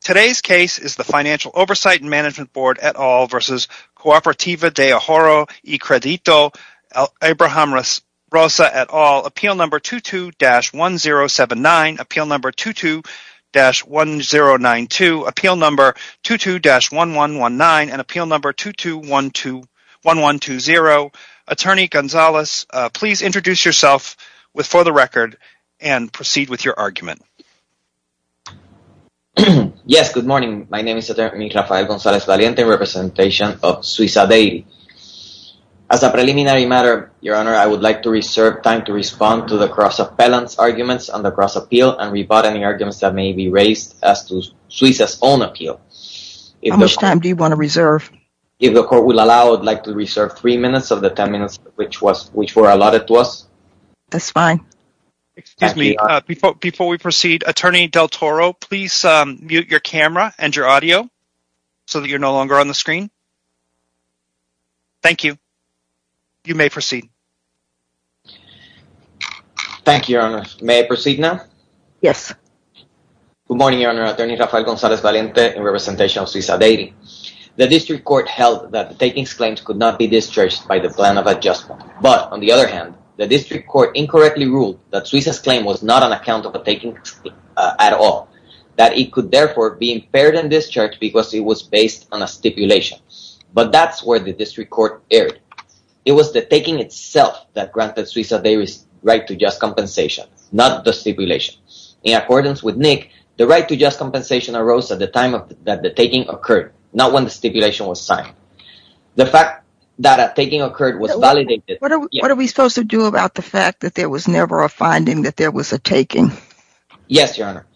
Today's case is the Financial Oversight and Management Board et al. v. Cooperativa de Ahorro y Credito, Abraham Rosa et al. Appeal Number 22-1079, Appeal Number 22-1092, Appeal Number 22-1119, and Appeal Number 22-1120. Attorney González, please introduce yourself for the record and proceed with your argument. Yes, good morning. My name is Attorney Rafael González-Valiente in representation of Suiza Deity. As a preliminary matter, Your Honor, I would like to reserve time to respond to the cross-appellant's arguments on the cross-appeal and rebut any arguments that may be raised as to Suiza's own appeal. How much time do you want to reserve? If the Court will allow, I would like to reserve three minutes of the ten minutes which were allotted to us. That's fine. Before we proceed, Attorney Del Toro, please mute your camera and your audio so that you're no longer on the screen. Thank you. You may proceed. Thank you, Your Honor. May I proceed now? Yes. Good morning, Your Honor. Attorney Rafael González-Valiente in representation of Suiza Deity. The District Court held that the taking's claims could not be discharged by the plan of adjustment. But, on the other hand, the District Court incorrectly ruled that Suiza's claim was not on account of the taking at all, that it could therefore be impaired and discharged because it was based on a stipulation. But that's where the District Court erred. It was the taking itself that granted Suiza Deity's right to just compensation, not the stipulation. In accordance with Nick, the right to just compensation arose at the time that the taking occurred, not when the stipulation was signed. The fact that a taking occurred was validated. What are we supposed to do about the fact that there was never a finding that there was a taking? Yes, Your Honor.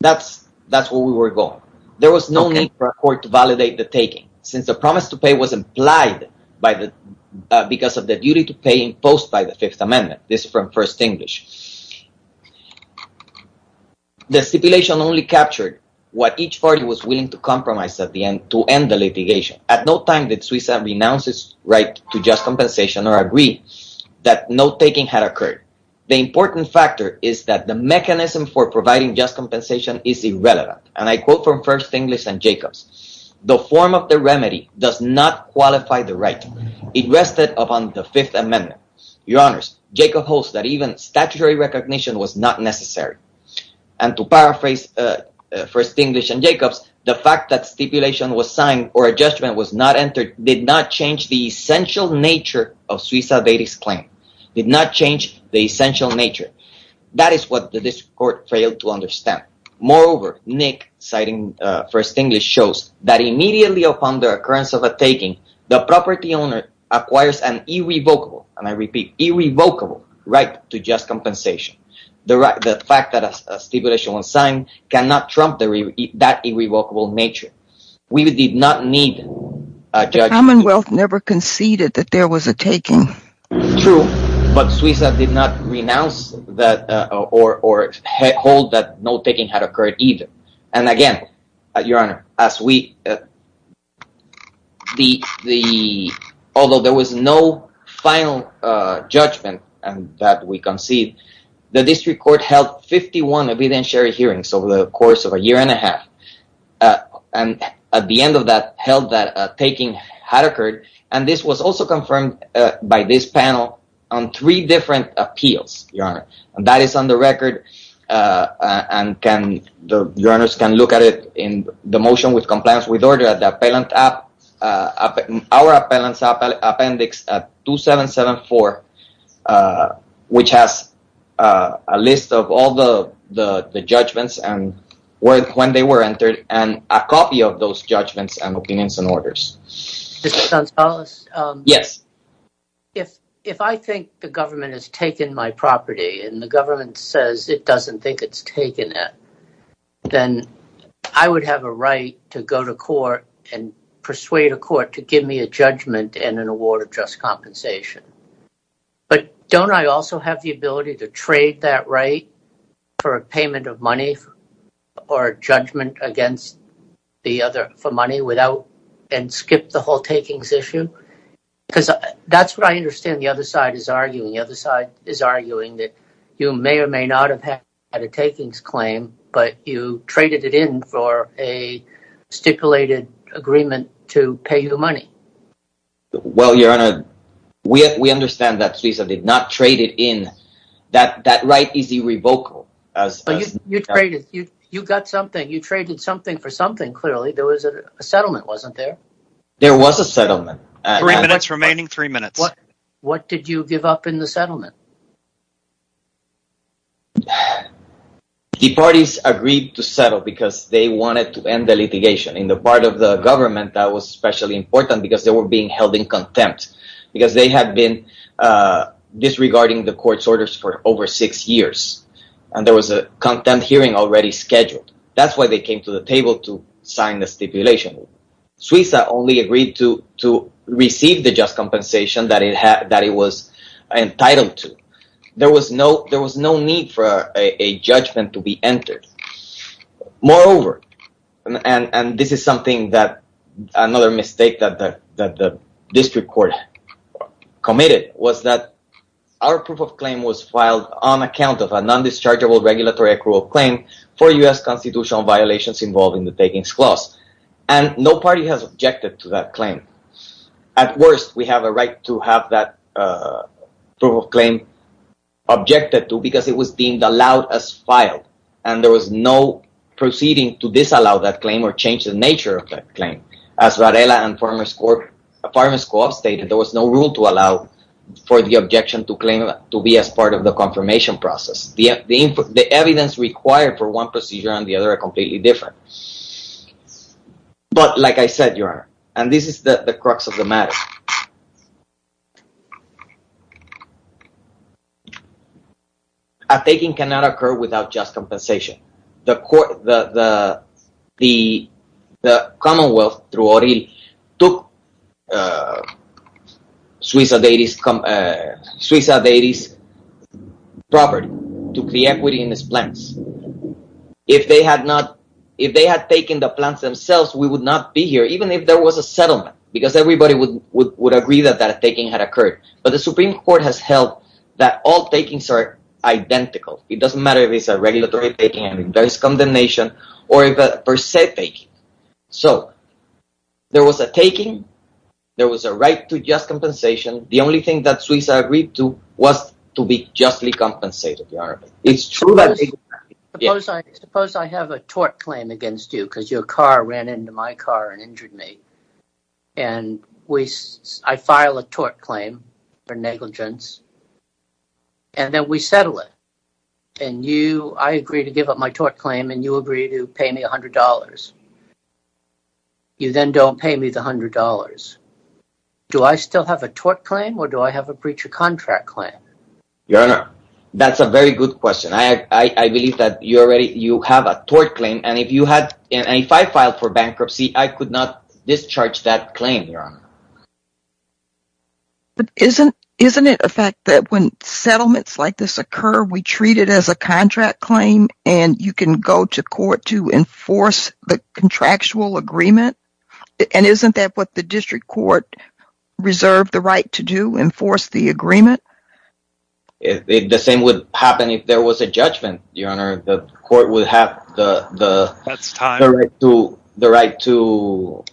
That's where we were going. There was no need for a court to validate the taking, since the promise to pay was implied because of the duty to pay imposed by the Fifth Amendment. This is from First English. The stipulation only captured what each party was willing to compromise to end the litigation. At no time did Suiza renounce its right to just compensation or agree that no taking had occurred. The important factor is that the mechanism for providing just compensation is irrelevant. And I quote from First English and Jacobs. The form of the remedy does not qualify the right. It rested upon the Fifth Amendment. Your Honors, Jacobs holds that even statutory recognition was not necessary. And to paraphrase First English and Jacobs, the fact that stipulation was signed or a judgment was not entered did not change the essential nature of Suiza Deity's claim. Did not change the essential nature. That is what the District Court failed to understand. Moreover, Nick, citing First English, shows that immediately upon the occurrence of a taking, the property owner acquires an irrevocable, and I repeat, irrevocable right to just compensation. The fact that a stipulation was signed cannot trump that irrevocable nature. We did not need a judgment. The Commonwealth never conceded that there was a taking. True, but Suiza did not renounce or hold that no taking had occurred either. And again, Your Honor, although there was no final judgment that we conceived, the District Court held 51 evidentiary hearings over the course of a year and a half. And at the end of that, held that a taking had occurred. And this was also confirmed by this panel on three different appeals, Your Honor. And a copy of those judgments and opinions and orders. Mr. Gonzalez? Yes. If I think the government has taken my property and the government says it doesn't think it's taken it, then I would have a right to go to court and persuade a court to give me a judgment and an award of just compensation. But don't I also have the ability to trade that right for a payment of money or a judgment for money and skip the whole takings issue? Because that's what I understand the other side is arguing. The other side is arguing that you may or may not have had a takings claim, but you traded it in for a stipulated agreement to pay you money. Well, Your Honor, we understand that Suiza did not trade it in. That right is irrevocable. But you traded, you got something, you traded something for something, clearly. There was a settlement, wasn't there? There was a settlement. Three minutes remaining, three minutes. What did you give up in the settlement? The parties agreed to settle because they wanted to end the litigation. In the part of the government that was especially important because they were being held in contempt. Because they had been disregarding the court's orders for over six years. And there was a contempt hearing already scheduled. That's why they came to the table to sign the stipulation. Suiza only agreed to receive the just compensation that it was entitled to. There was no need for a judgment to be entered. Moreover, and this is something that another mistake that the district court committed, was that our proof of claim was filed on account of a non-dischargeable regulatory accrual claim for U.S. constitutional violations involving the takings clause. And no party has objected to that claim. At worst, we have a right to have that proof of claim objected to because it was deemed allowed as filed. And there was no proceeding to disallow that claim or change the nature of that claim. As Varela and Farmers Court stated, there was no rule to allow for the objection to claim to be as part of the confirmation process. The evidence required for one procedure and the other are completely different. But like I said, Your Honor, and this is the crux of the matter. A taking cannot occur without just compensation. The Commonwealth, through O'Reilly, took Suiza Deity's property, took the equity in its plans. If they had taken the plans themselves, we would not be here, even if there was a settlement. Because everybody would agree that that taking had occurred. But the Supreme Court has held that all takings are identical. It doesn't matter if it's a regulatory taking, if there is condemnation, or if it's a per se taking. So, there was a taking, there was a right to just compensation. The only thing that Suiza agreed to was to be justly compensated, Your Honor. Suppose I have a tort claim against you, because your car ran into my car and injured me. And I file a tort claim for negligence, and then we settle it. And I agree to give up my tort claim, and you agree to pay me $100. You then don't pay me the $100. Do I still have a tort claim, or do I have a breach of contract claim? Your Honor, that's a very good question. I believe that you have a tort claim, and if I filed for bankruptcy, I could not discharge that claim, Your Honor. Isn't it a fact that when settlements like this occur, we treat it as a contract claim? And you can go to court to enforce the contractual agreement? And isn't that what the district court reserved the right to do, enforce the agreement? The same would happen if there was a judgment, Your Honor. The court would have the right to...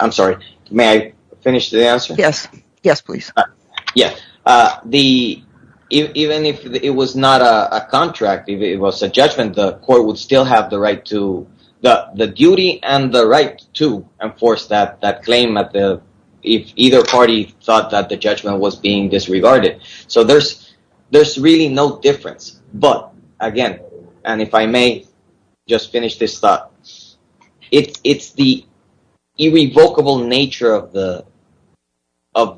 I'm sorry. May I finish the answer? Yes. Yes, please. Yes. Even if it was not a contract, if it was a judgment, the court would still have the right to... There's really no difference. But, again, and if I may just finish this thought. It's the irrevocable nature of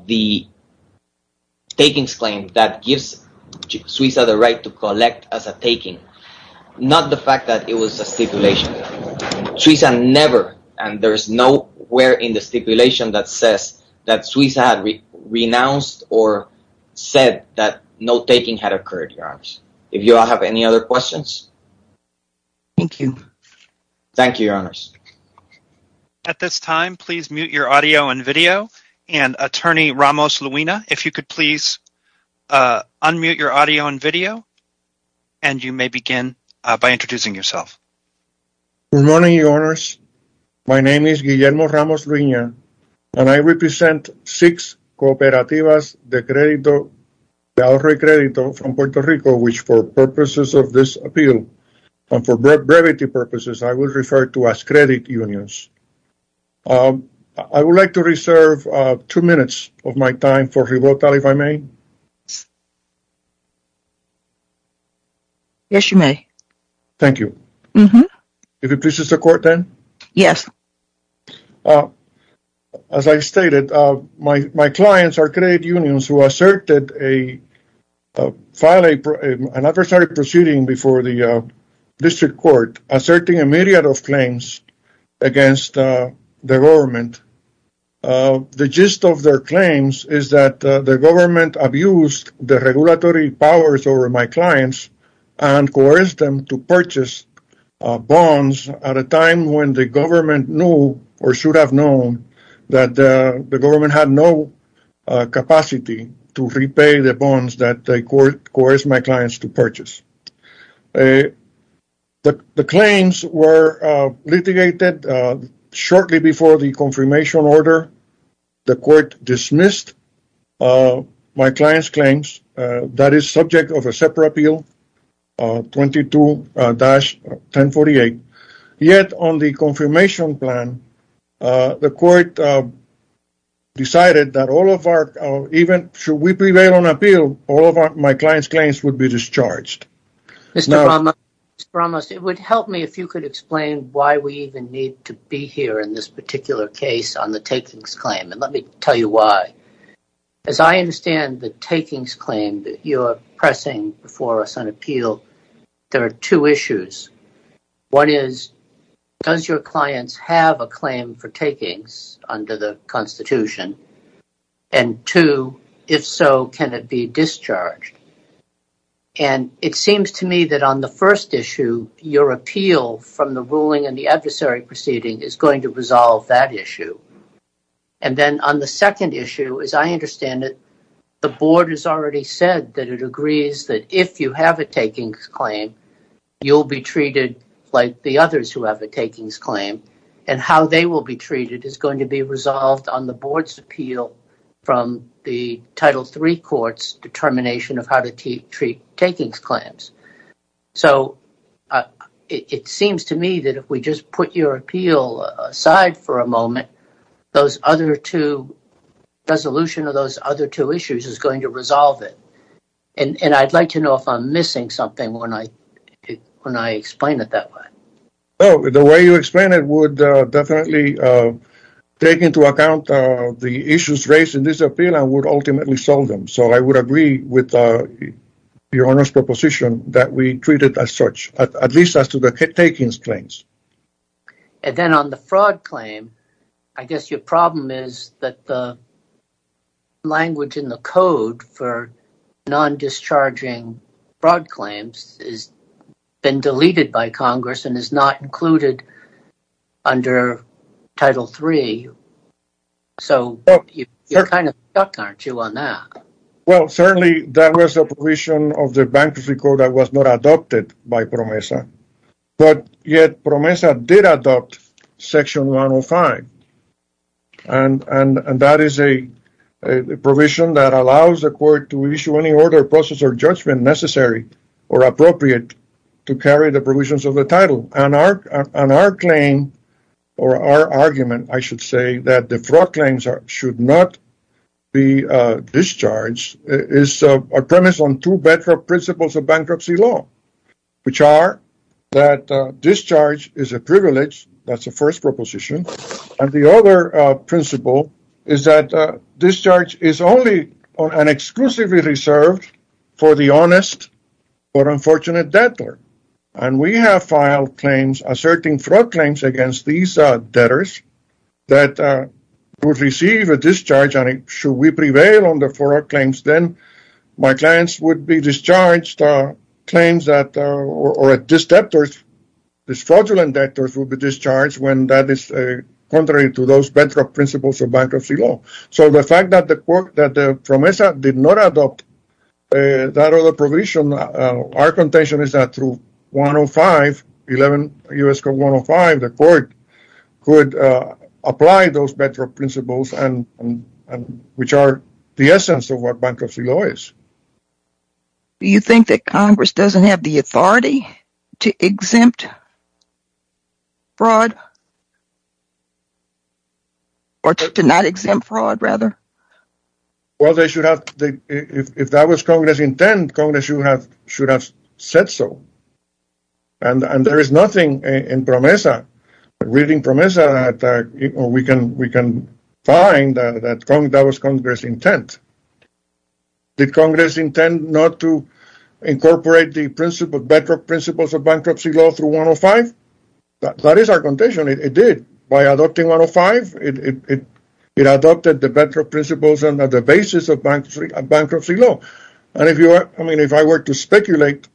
the takings claim that gives Suiza the right to collect as a taking. Not the fact that it was a stipulation. Suiza never, and there's nowhere in the stipulation that says that Suiza had renounced or said that no taking had occurred, Your Honor. Do you all have any other questions? Thank you. Thank you, Your Honors. At this time, please mute your audio and video. And, Attorney Ramos-Luina, if you could please unmute your audio and video, and you may begin by introducing yourself. Good morning, Your Honors. My name is Guillermo Ramos-Luina, and I represent six cooperativas de ahorro y credito from Puerto Rico, which, for purposes of this appeal, and for brevity purposes, I will refer to as credit unions. I would like to reserve two minutes of my time for rebuttal, if I may. Yes, you may. Thank you. Mm-hmm. If it pleases the Court, then. Yes. As I stated, my clients are credit unions who asserted a file, an adversary proceeding before the district court, asserting a myriad of claims against the government. The gist of their claims is that the government abused the regulatory powers over my clients and coerced them to purchase bonds at a time when the government knew, or should have known, that the government had no capacity to repay the bonds that they coerced my clients to purchase. The claims were litigated shortly before the confirmation order. The Court dismissed my clients' claims. That is subject of a separate appeal, 22-1048. Yet, on the confirmation plan, the Court decided that all of our, even should we prevail on appeal, all of my clients' claims would be discharged. Mr. Ramos, it would help me if you could explain why we even need to be here in this particular case on the takings claim, and let me tell you why. As I understand the takings claim that you are pressing before us on appeal, there are two issues. One is, does your clients have a claim for takings under the Constitution? And two, if so, can it be discharged? And it seems to me that on the first issue, your appeal from the ruling and the adversary proceeding is going to resolve that issue. And then on the second issue, as I understand it, the Board has already said that it agrees that if you have a takings claim, you'll be treated like the others who have a takings claim. And how they will be treated is going to be resolved on the Board's appeal from the Title III Court's determination of how to treat takings claims. So it seems to me that if we just put your appeal aside for a moment, those other two, resolution of those other two issues is going to resolve it. And I'd like to know if I'm missing something when I explain it that way. Oh, the way you explain it would definitely take into account the issues raised in this appeal and would ultimately solve them. So I would agree with your Honor's proposition that we treat it as such, at least as to the takings claims. And then on the fraud claim, I guess your problem is that the language in the code for non-discharging fraud claims has been deleted by Congress and is not included under Title III. So you're kind of stuck, aren't you, on that? Well, certainly that was the provision of the bankruptcy code that was not adopted by PROMESA. But yet PROMESA did adopt Section 105. And that is a provision that allows the court to issue any order of process or judgment necessary or appropriate to carry the provisions of the Title. And our claim, or our argument, I should say, that the fraud claims should not be discharged is a premise on two better principles of bankruptcy law, which are that discharge is a privilege. That's the first proposition. And the other principle is that discharge is only and exclusively reserved for the honest or unfortunate debtor. And we have filed claims asserting fraud claims against these debtors that would receive a discharge. And should we prevail on the fraud claims, then my clients would be discharged claims that, or these debtors, these fraudulent debtors would be discharged when that is contrary to those bankrupt principles of bankruptcy law. So the fact that PROMESA did not adopt that other provision, our contention is that through 105, 11 U.S. Code 105, the court could apply those better principles, which are the essence of what bankruptcy law is. Do you think that Congress doesn't have the authority to exempt fraud? Or to not exempt fraud, rather? Well, they should have, if that was Congress' intent, Congress should have said so. And there is nothing in PROMESA, reading PROMESA, that we can find that that was Congress' intent. Did Congress intend not to incorporate the better principles of bankruptcy law through 105? That is our contention, it did. By adopting 105, it adopted the better principles and the basis of bankruptcy law. And if I were to speculate,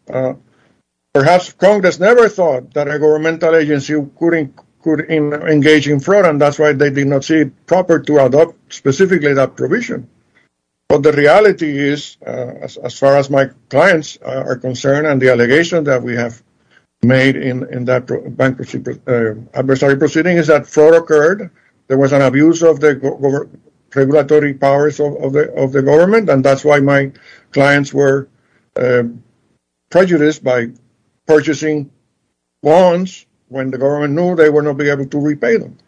perhaps Congress never thought that a governmental agency could engage in fraud, and that's why they did not see it proper to adopt specifically that provision. But the reality is, as far as my clients are concerned, and the allegations that we have made in that bankruptcy adversary proceeding, is that fraud occurred, there was an abuse of the regulatory powers of the government, and that's why my clients were prejudiced by purchasing bonds when the government knew they would not be able to repay them.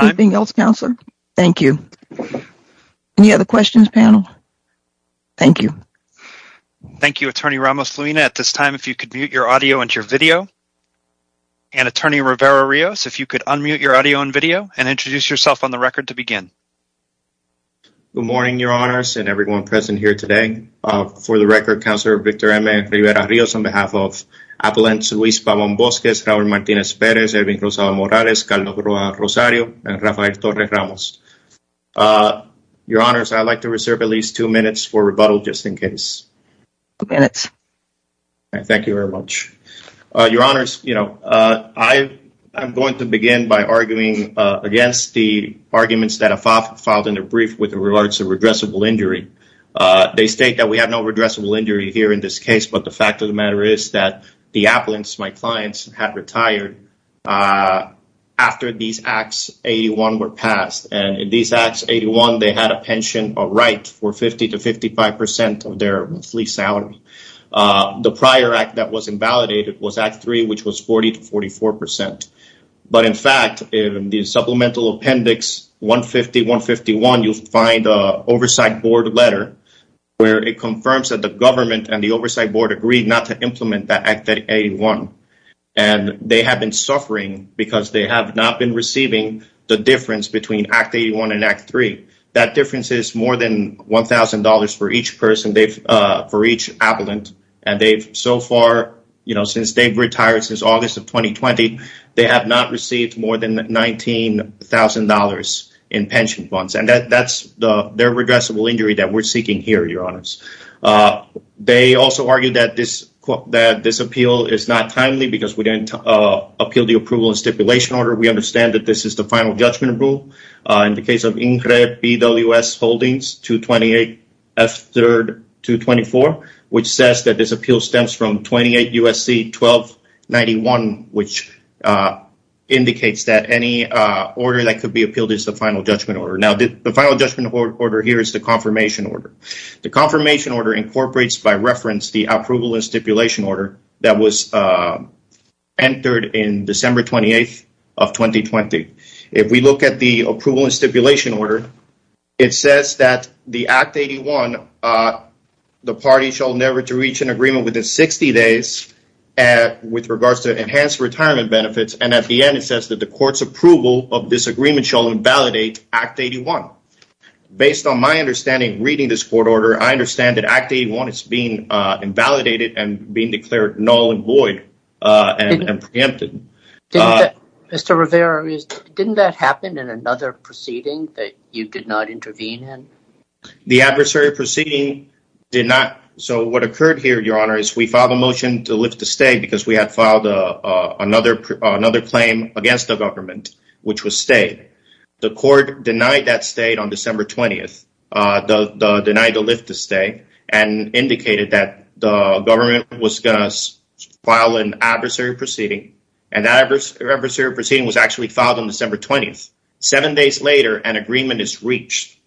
Anything else, Counselor? Thank you. Any other questions, panel? Thank you. Thank you, Attorney Ramos-Felina. At this time, if you could mute your audio and your video. And, Attorney Rivera-Rios, if you could unmute your audio and video and introduce yourself on the record to begin. Good morning, Your Honors, and everyone present here today. For the record, Counselor Victor M. Rivera-Rios, on behalf of Appellant Luis Pabon-Bosques, Robert Martinez-Perez, Edwin Rosa-Morales, Carlos Rosario, and Rafael Hector-Ramos. Your Honors, I'd like to reserve at least two minutes for rebuttal, just in case. Two minutes. Thank you very much. Your Honors, you know, I'm going to begin by arguing against the arguments that are filed in the brief with regards to regressible injury. They state that we have no regressible injury here in this case, but the fact of the matter is that the appellants, my clients, have retired after these Acts 81 were passed. And in these Acts 81, they had a pension, a right, for 50% to 55% of their lease salary. The prior Act that was invalidated was Act 3, which was 40 to 44%. But, in fact, in the Supplemental Appendix 150-151, you'll find an Oversight Board letter where it confirms that the government and the Oversight Board agreed not to implement that Act 81. And they have been suffering because they have not been receiving the difference between Act 81 and Act 3. That difference is more than $1,000 for each person, for each appellant. And they've so far, you know, since they've retired since August of 2020, they have not received more than $19,000 in pension funds. And that's their regressible injury that we're seeking here, Your Honors. They also argue that this appeal is not timely because we didn't appeal the approval and stipulation order. We understand that this is the final judgment rule. In the case of INCRE, BWS Holdings, 228F3-224, which says that this appeal stems from 28 U.S.C. 1291, which indicates that any order that could be appealed is the final judgment order. Now, the final judgment order here is the confirmation order. The confirmation order incorporates, by reference, the approval and stipulation order that was entered in December 28 of 2020. If we look at the approval and stipulation order, it says that the Act 81, the party shall never to reach an agreement within 60 days with regards to enhanced retirement benefits. And at the end, it says that the court's approval of this agreement shall invalidate Act 81. Based on my understanding, reading this court order, I understand that Act 81 is being invalidated and being declared null and void and preempted. Mr. Rivera, didn't that happen in another proceeding that you did not intervene in? The adversary proceeding did not. So, what occurred here, Your Honor, is we filed a motion to lift the stay because we had filed another claim against the government, which was stayed. The court denied that stay on December 20th, denied the lift to stay, and indicated that the government was going to file an adversary proceeding. And that adversary proceeding was actually filed on December 20th. Seven days later, an agreement is reached.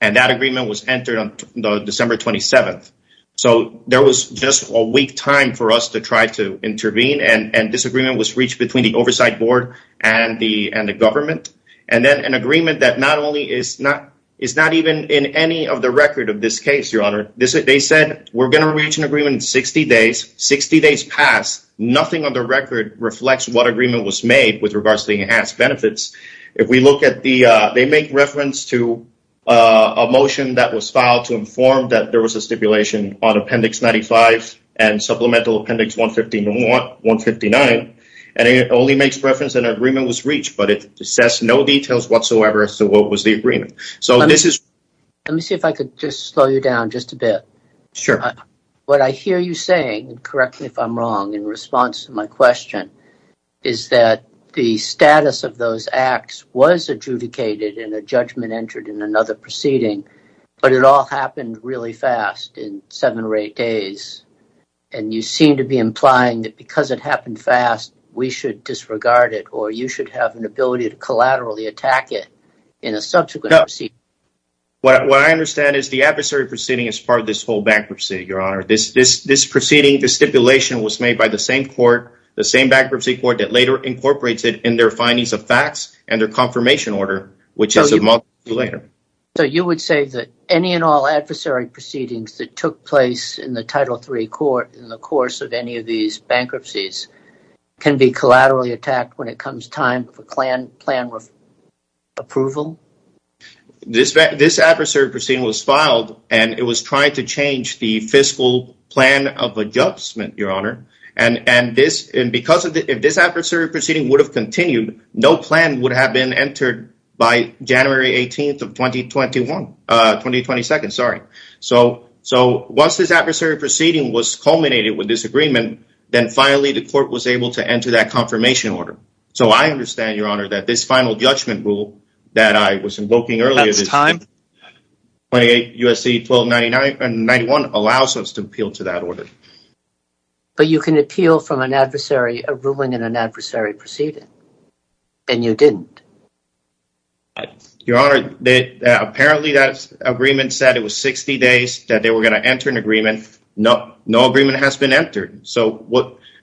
And that agreement was entered on December 27th. So, there was just a weak time for us to try to intervene. And this agreement was reached between the oversight board and the government. And then an agreement that not only is not even in any of the record of this case, Your Honor. They said, we're going to reach an agreement in 60 days. Sixty days passed. Nothing on the record reflects what agreement was made with regards to enhanced benefits. They make reference to a motion that was filed to inform that there was a stipulation on appendix 95 and supplemental appendix 159. And it only makes reference that an agreement was reached. But it says no details whatsoever as to what was the agreement. Let me see if I could just slow you down just a bit. Sure. What I hear you saying, correct me if I'm wrong in response to my question, is that the status of those acts was adjudicated and a judgment entered in another proceeding. But it all happened really fast in seven or eight days. And you seem to be implying that because it happened fast, we should disregard it. Or you should have an ability to collaterally attack it in a subsequent proceeding. What I understand is the adversary proceeding is part of this whole bankruptcy, Your Honor. This proceeding, this stipulation was made by the same court, the same bankruptcy court that later incorporates it in their findings of facts and their confirmation order, which is a month later. So you would say that any and all adversary proceedings that took place in the Title III court in the course of any of these bankruptcies can be collaterally attacked when it comes time for plan approval? This adversary proceeding was filed and it was trying to change the fiscal plan of adjustment, Your Honor. And if this adversary proceeding would have continued, no plan would have been entered by January 18th of 2022. So once this adversary proceeding was culminated with this agreement, then finally the court was able to enter that confirmation order. So I understand, Your Honor, that this final judgment rule that I was invoking earlier, 28 U.S.C. 1291, allows us to appeal to that order. But you can appeal from a ruling in an adversary proceeding, and you didn't. Your Honor, apparently that agreement said it was 60 days that they were going to enter an agreement. No agreement has been entered. So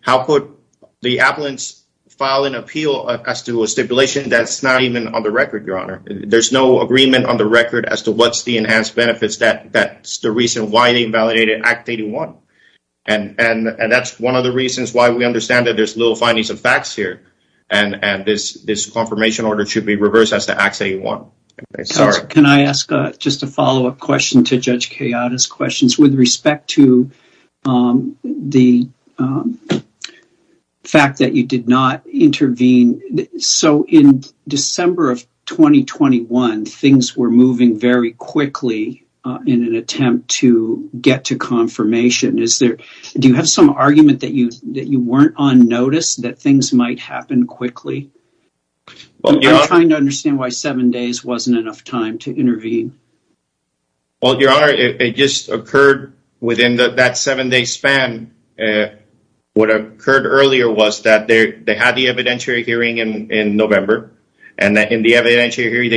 how could the applicants file an appeal as to a stipulation that's not even on the record, Your Honor? There's no agreement on the record as to what's the enhanced benefits that's the reason why they invalidated Act 81. And that's one of the reasons why we understand that there's little findings of facts here, and this confirmation order should be reversed as to Act 81. Can I ask just a follow-up question to Judge Kayada's questions with respect to the fact that you did not intervene? So in December of 2021, things were moving very quickly in an attempt to get to confirmation. Do you have some argument that you weren't on notice that things might happen quickly? I'm trying to understand why seven days wasn't enough time to intervene. Well, Your Honor, it just occurred within that seven-day span. What occurred earlier was that they had the evidentiary hearing in November. And in the evidentiary hearing,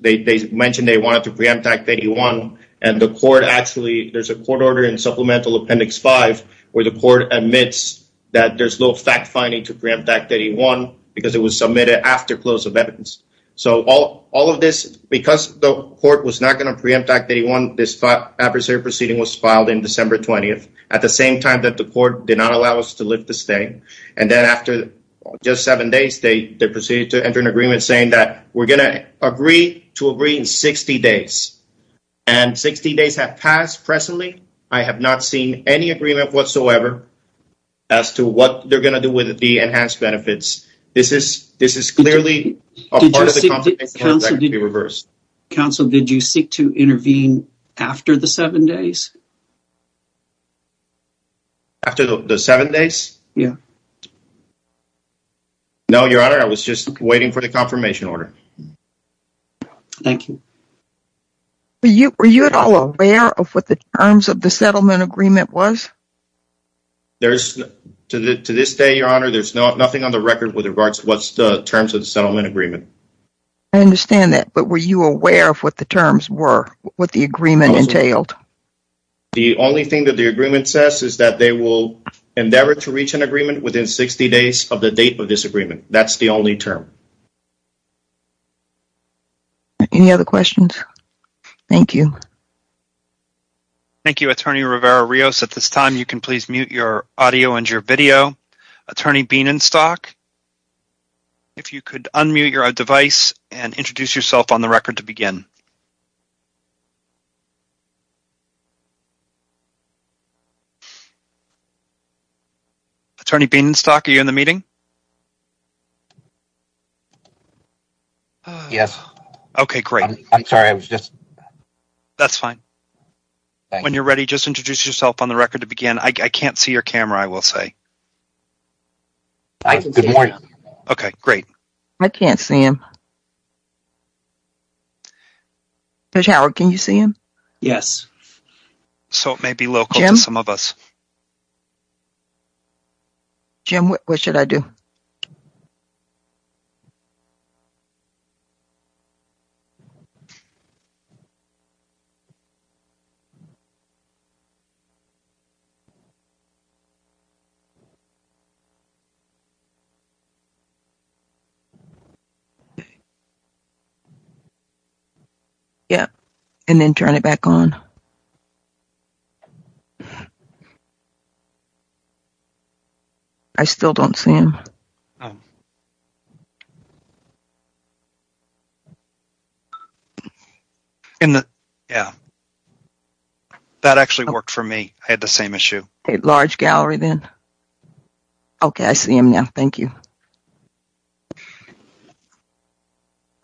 they mentioned they wanted to preempt Act 81. And there's a court order in Supplemental Appendix 5 where the court admits that there's no fact-finding to preempt Act 81 because it was submitted after close of evidence. So because the court was not going to preempt Act 81, this adversarial proceeding was filed in December 20th, at the same time that the court did not allow us to lift the state. And then after just seven days, they proceeded to enter an agreement saying that we're going to agree to agree in 60 days. And 60 days have passed. Presently, I have not seen any agreement whatsoever as to what they're going to do with the enhanced benefits. This is clearly a part of the confirmation process to be reversed. Counsel, did you seek to intervene after the seven days? After the seven days? Yeah. No, Your Honor, I was just waiting for the confirmation order. Thank you. Were you at all aware of what the terms of the settlement agreement was? To this day, Your Honor, there's nothing on the record with regards to what's the terms of the settlement agreement. I understand that, but were you aware of what the terms were, what the agreement entailed? The only thing that the agreement says is that they will endeavor to reach an agreement within 60 days of the date of this agreement. That's the only term. Any other questions? Thank you. Thank you, Attorney Rivera-Rios. At this time, you can please mute your audio and your video. Attorney Bienenstock, if you could unmute your device and introduce yourself on the record to begin. Attorney Bienenstock, are you in the meeting? Yes. Okay, great. I'm sorry, I was just... That's fine. When you're ready, just introduce yourself on the record to begin. I can't see your camera, I will say. I can see it. Okay, great. I can't see him. Judge Howard, can you see him? Yes. So it may be local to some of us. Jim? Jim, what should I do? Okay. Yeah, and then turn it back on. I still don't see him. Oh. Okay. Yeah. That actually worked for me. I had the same issue. Okay, large gallery then. Okay, I see him now. Thank you.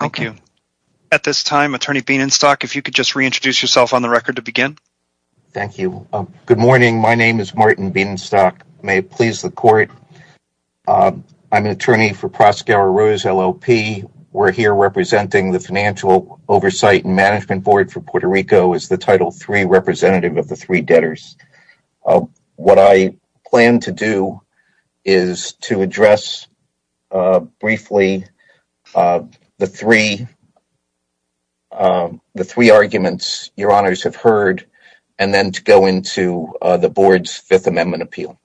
Thank you. At this time, Attorney Bienenstock, if you could just reintroduce yourself on the record to begin. Thank you. Good morning. My name is Martin Bienenstock. May it please the court. I'm an attorney for Prospero Rose, LLP. We're here representing the Financial Oversight and Management Board for Puerto Rico as the Title III representative of the three debtors. What I plan to do is to address briefly the three arguments your honors have heard and then to go into the board's Fifth Amendment appeal.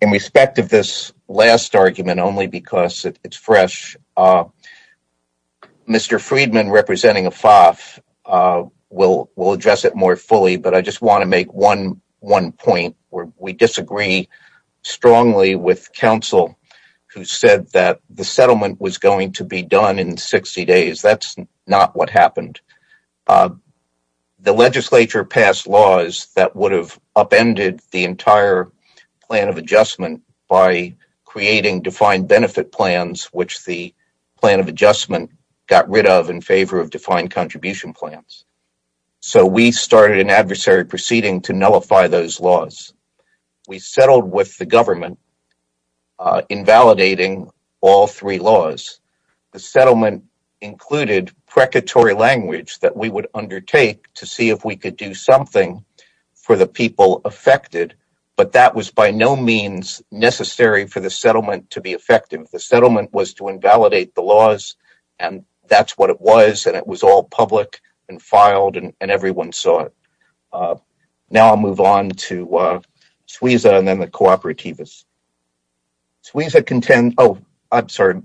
In respect of this last argument, only because it's fresh, Mr. Friedman, representing AFAF, will address it more fully, but I just want to make one point. We disagree strongly with counsel who said that the settlement was going to be done in 60 days. That's not what happened. The legislature passed laws that would have upended the entire plan of adjustment by creating defined benefit plans, which the plan of adjustment got rid of in favor of defined contribution plans. So we started an adversary proceeding to nullify those laws. We settled with the government, invalidating all three laws. The settlement included precatory language that we would undertake to see if we could do something for the people affected, but that was by no means necessary for the settlement to be effective. The settlement was to invalidate the laws, and that's what it was, and it was all public and filed, and everyone saw it. Now I'll move on to Suiza and then the cooperativists.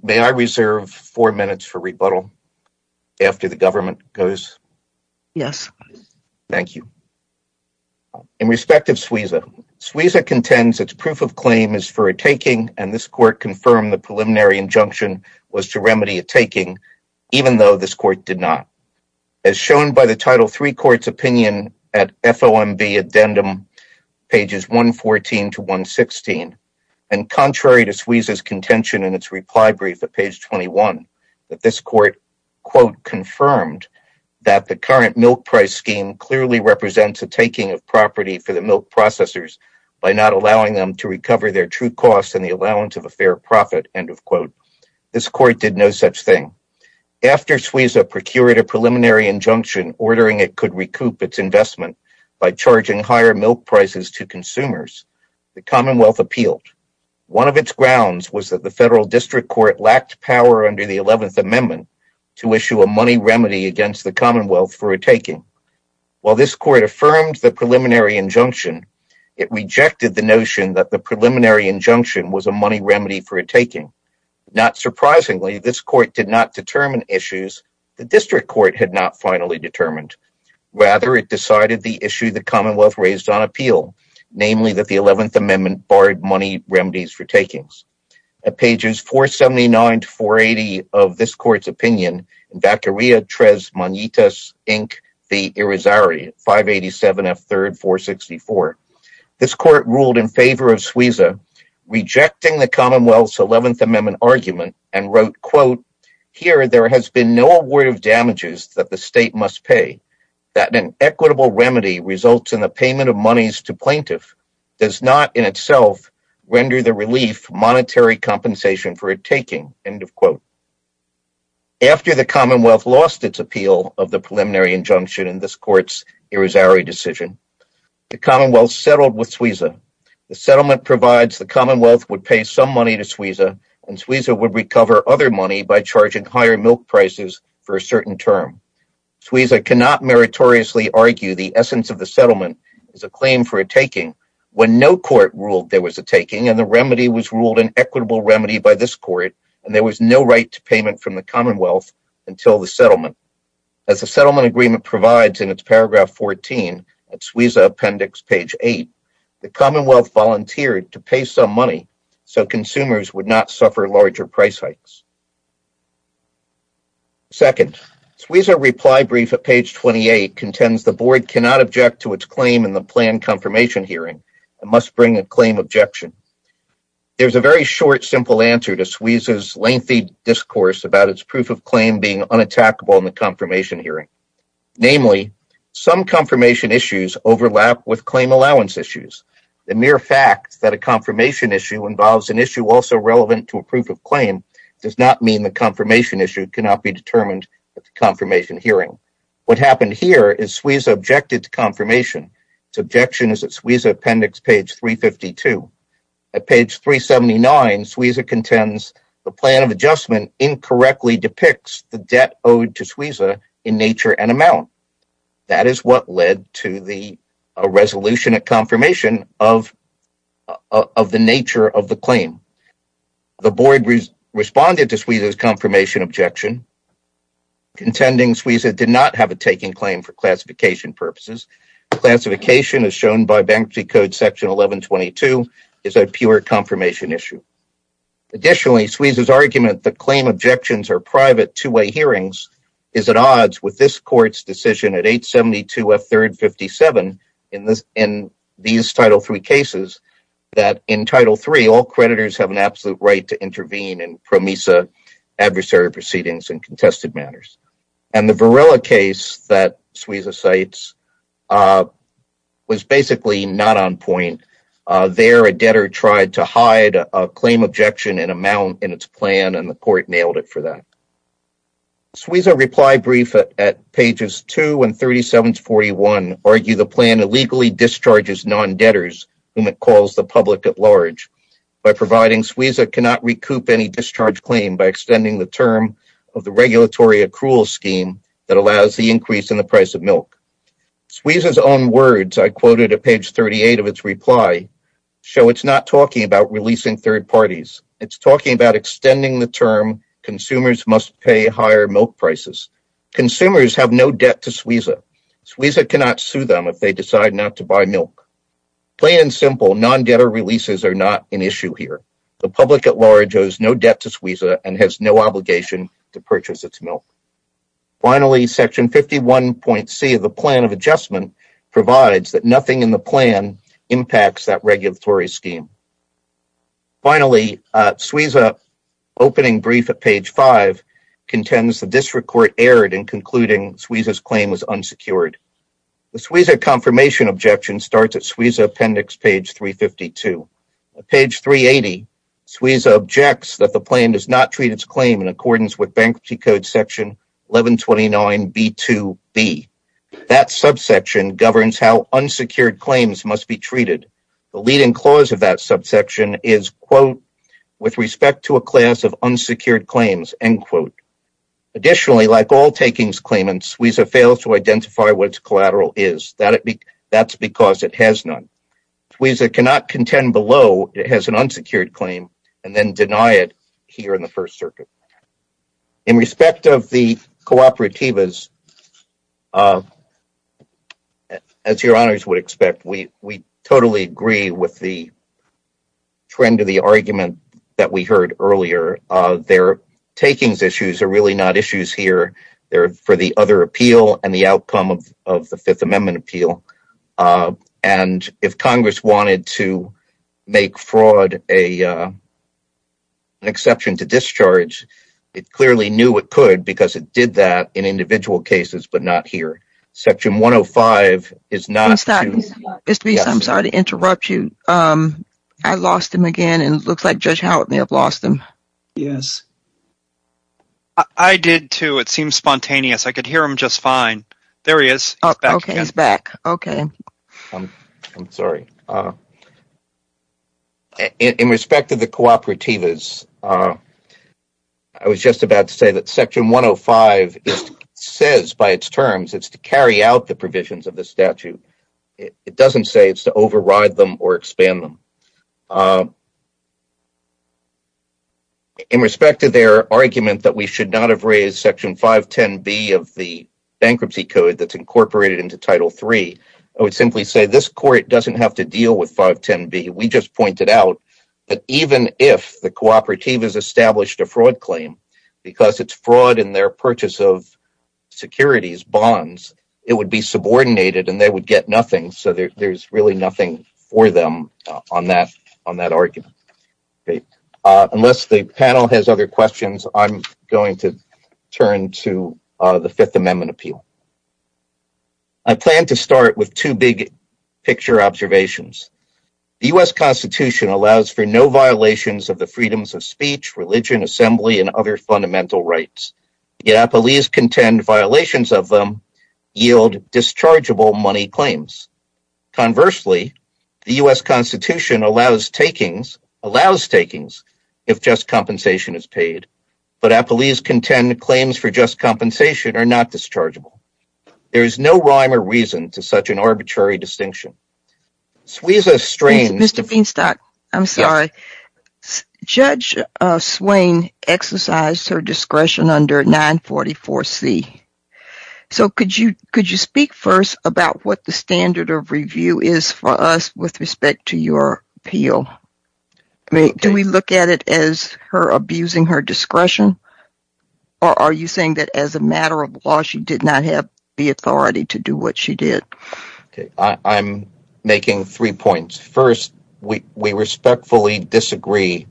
May I reserve four minutes for rebuttal after the government goes? Yes. Thank you. In respect of Suiza, Suiza contends its proof of claim is for a taking, and this court confirmed the preliminary injunction was to remedy a taking, even though this court did not. As shown by the Title III Court's opinion at FOMB addendum, pages 114 to 116, and contrary to Suiza's contention in its reply brief at page 21, that this court, quote, confirmed that the current milk price scheme clearly represents a taking of property for the milk processors by not allowing them to recover their true costs and the allowance of a fair profit, end of quote. This court did no such thing. After Suiza procured a preliminary injunction ordering it could recoup its investment by charging higher milk prices to consumers, the Commonwealth appealed. One of its grounds was that the Federal District Court lacked power under the 11th Amendment to issue a money remedy against the Commonwealth for a taking. While this court affirmed the preliminary injunction, it rejected the notion that the preliminary injunction was a money remedy for a taking. Not surprisingly, this court did not determine issues the District Court had not finally determined. Rather, it decided the issue the Commonwealth raised on appeal, namely that the 11th Amendment barred money remedies for takings. At pages 479 to 480 of this court's opinion, in Bacteria Tres Monitas Inc. v. Irizarry, 587 F. 3rd, 464, this court ruled in favor of Suiza, rejecting the Commonwealth's 11th Amendment argument, and wrote, quote, After the Commonwealth lost its appeal of the preliminary injunction in this court's Irizarry decision, the Commonwealth settled with Suiza. The settlement provides the Commonwealth would pay some money to Suiza, and Suiza would recover other money by charging higher milk prices for a certain term. Suiza cannot meritoriously argue the essence of the settlement is a claim for a taking, when no court ruled there was a taking, and the remedy was ruled an equitable remedy by this court, and there was no right to payment from the Commonwealth until the settlement. As the settlement agreement provides in its paragraph 14 at Suiza Appendix page 8, the Commonwealth volunteered to pay some money so consumers would not suffer larger price hikes. Second, Suiza reply brief at page 28 contends the board cannot object to its claim in the planned confirmation hearing, and must bring a claim objection. There's a very short, simple answer to Suiza's lengthy discourse about its proof of claim being unattackable in the confirmation hearing. Namely, some confirmation issues overlap with claim allowance issues. The mere fact that a confirmation issue involves an issue also relevant to a proof of claim does not mean the confirmation issue cannot be determined at the confirmation hearing. What happened here is Suiza objected to confirmation. Its objection is at Suiza Appendix page 352. At page 379, Suiza contends the plan of adjustment incorrectly depicts the debt owed to Suiza in nature and amount. That is what led to the resolution of confirmation of the nature of the claim. The board responded to Suiza's confirmation objection, contending Suiza did not have a taking claim for classification purposes. Classification, as shown by Banksy Code Section 1122, is a pure confirmation issue. Additionally, Suiza's argument that claim objections are private two-way hearings is at odds with this court's decision at 872F357 in these Title III cases, that in Title III all creditors have an absolute right to intervene in PROMISA adversary proceedings in contested matters. The Varela case that Suiza cites was basically not on point. There, a debtor tried to hide a claim objection and amount in its plan, and the court nailed it for that. Suiza's reply brief at pages 2 and 37-41 argues the plan illegally discharges non-debtors when it calls the public at large. By providing Suiza cannot recoup any discharge claim by extending the term of the regulatory accrual scheme that allows the increase in the price of milk. Suiza's own words, I quoted at page 38 of its reply, show it's not talking about releasing third parties. It's talking about extending the term consumers must pay higher milk prices. Consumers have no debt to Suiza. Suiza cannot sue them if they decide not to buy milk. Plain and simple, non-debtor releases are not an issue here. The public at large owes no debt to Suiza and has no obligation to purchase its milk. Finally, section 51.C of the plan of adjustment provides that nothing in the plan impacts that regulatory scheme. Finally, Suiza opening brief at page 5 contends the district court erred in concluding Suiza's claim was unsecured. The Suiza confirmation objection starts at Suiza appendix page 352. At page 380, Suiza objects that the plan does not treat its claim in accordance with Bankruptcy Code section 1129B2B. That subsection governs how unsecured claims must be treated. The leading clause of that subsection is, quote, with respect to a class of unsecured claims, end quote. Additionally, like all takings claimants, Suiza fails to identify what its collateral is. That's because it has none. Suiza cannot contend below it has an unsecured claim and then deny it here in the First Circuit. In respect of the cooperativas, as your honors would expect, we totally agree with the trend of the argument that we heard earlier. Their takings issues are really not issues here. They're for the other appeal and the outcome of the Fifth Amendment appeal. And if Congress wanted to make fraud an exception to discharge, it clearly knew it could because it did that in individual cases, but not here. I'm sorry to interrupt you. I lost him again, and it looks like Judge Howard may have lost him. Yes. I did, too. It seems spontaneous. I could hear him just fine. There he is. He's back. Okay. I'm sorry. In respect of the cooperativas, I was just about to say that Section 105 says by its terms it's to carry out the provisions of the statute. It doesn't say it's to override them or expand them. In respect to their argument that we should not have raised Section 510B of the bankruptcy code that's incorporated into Title III, I would simply say this court doesn't have to deal with 510B. We just pointed out that even if the cooperative has established a fraud claim, because it's fraud in their purchase of securities, bonds, it would be subordinated and they would get nothing, so there's really nothing for them on that argument. Unless the panel has other questions, I'm going to turn to the Fifth Amendment appeal. I plan to start with two big-picture observations. The U.S. Constitution allows for no violations of the freedoms of speech, religion, assembly, and other fundamental rights, yet appellees contend violations of them yield dischargeable money claims. Conversely, the U.S. Constitution allows takings if just compensation is paid, but appellees contend claims for just compensation are not dischargeable. There is no rhyme or reason to such an arbitrary distinction. Judge Swain exercised her discretion under 944C. Could you speak first about what the standard of review is for us with respect to your appeal? Do we look at it as her abusing her discretion, or are you saying that as a matter of law she did not have the authority to do what she did? I'm making three points. First, we respectfully disagree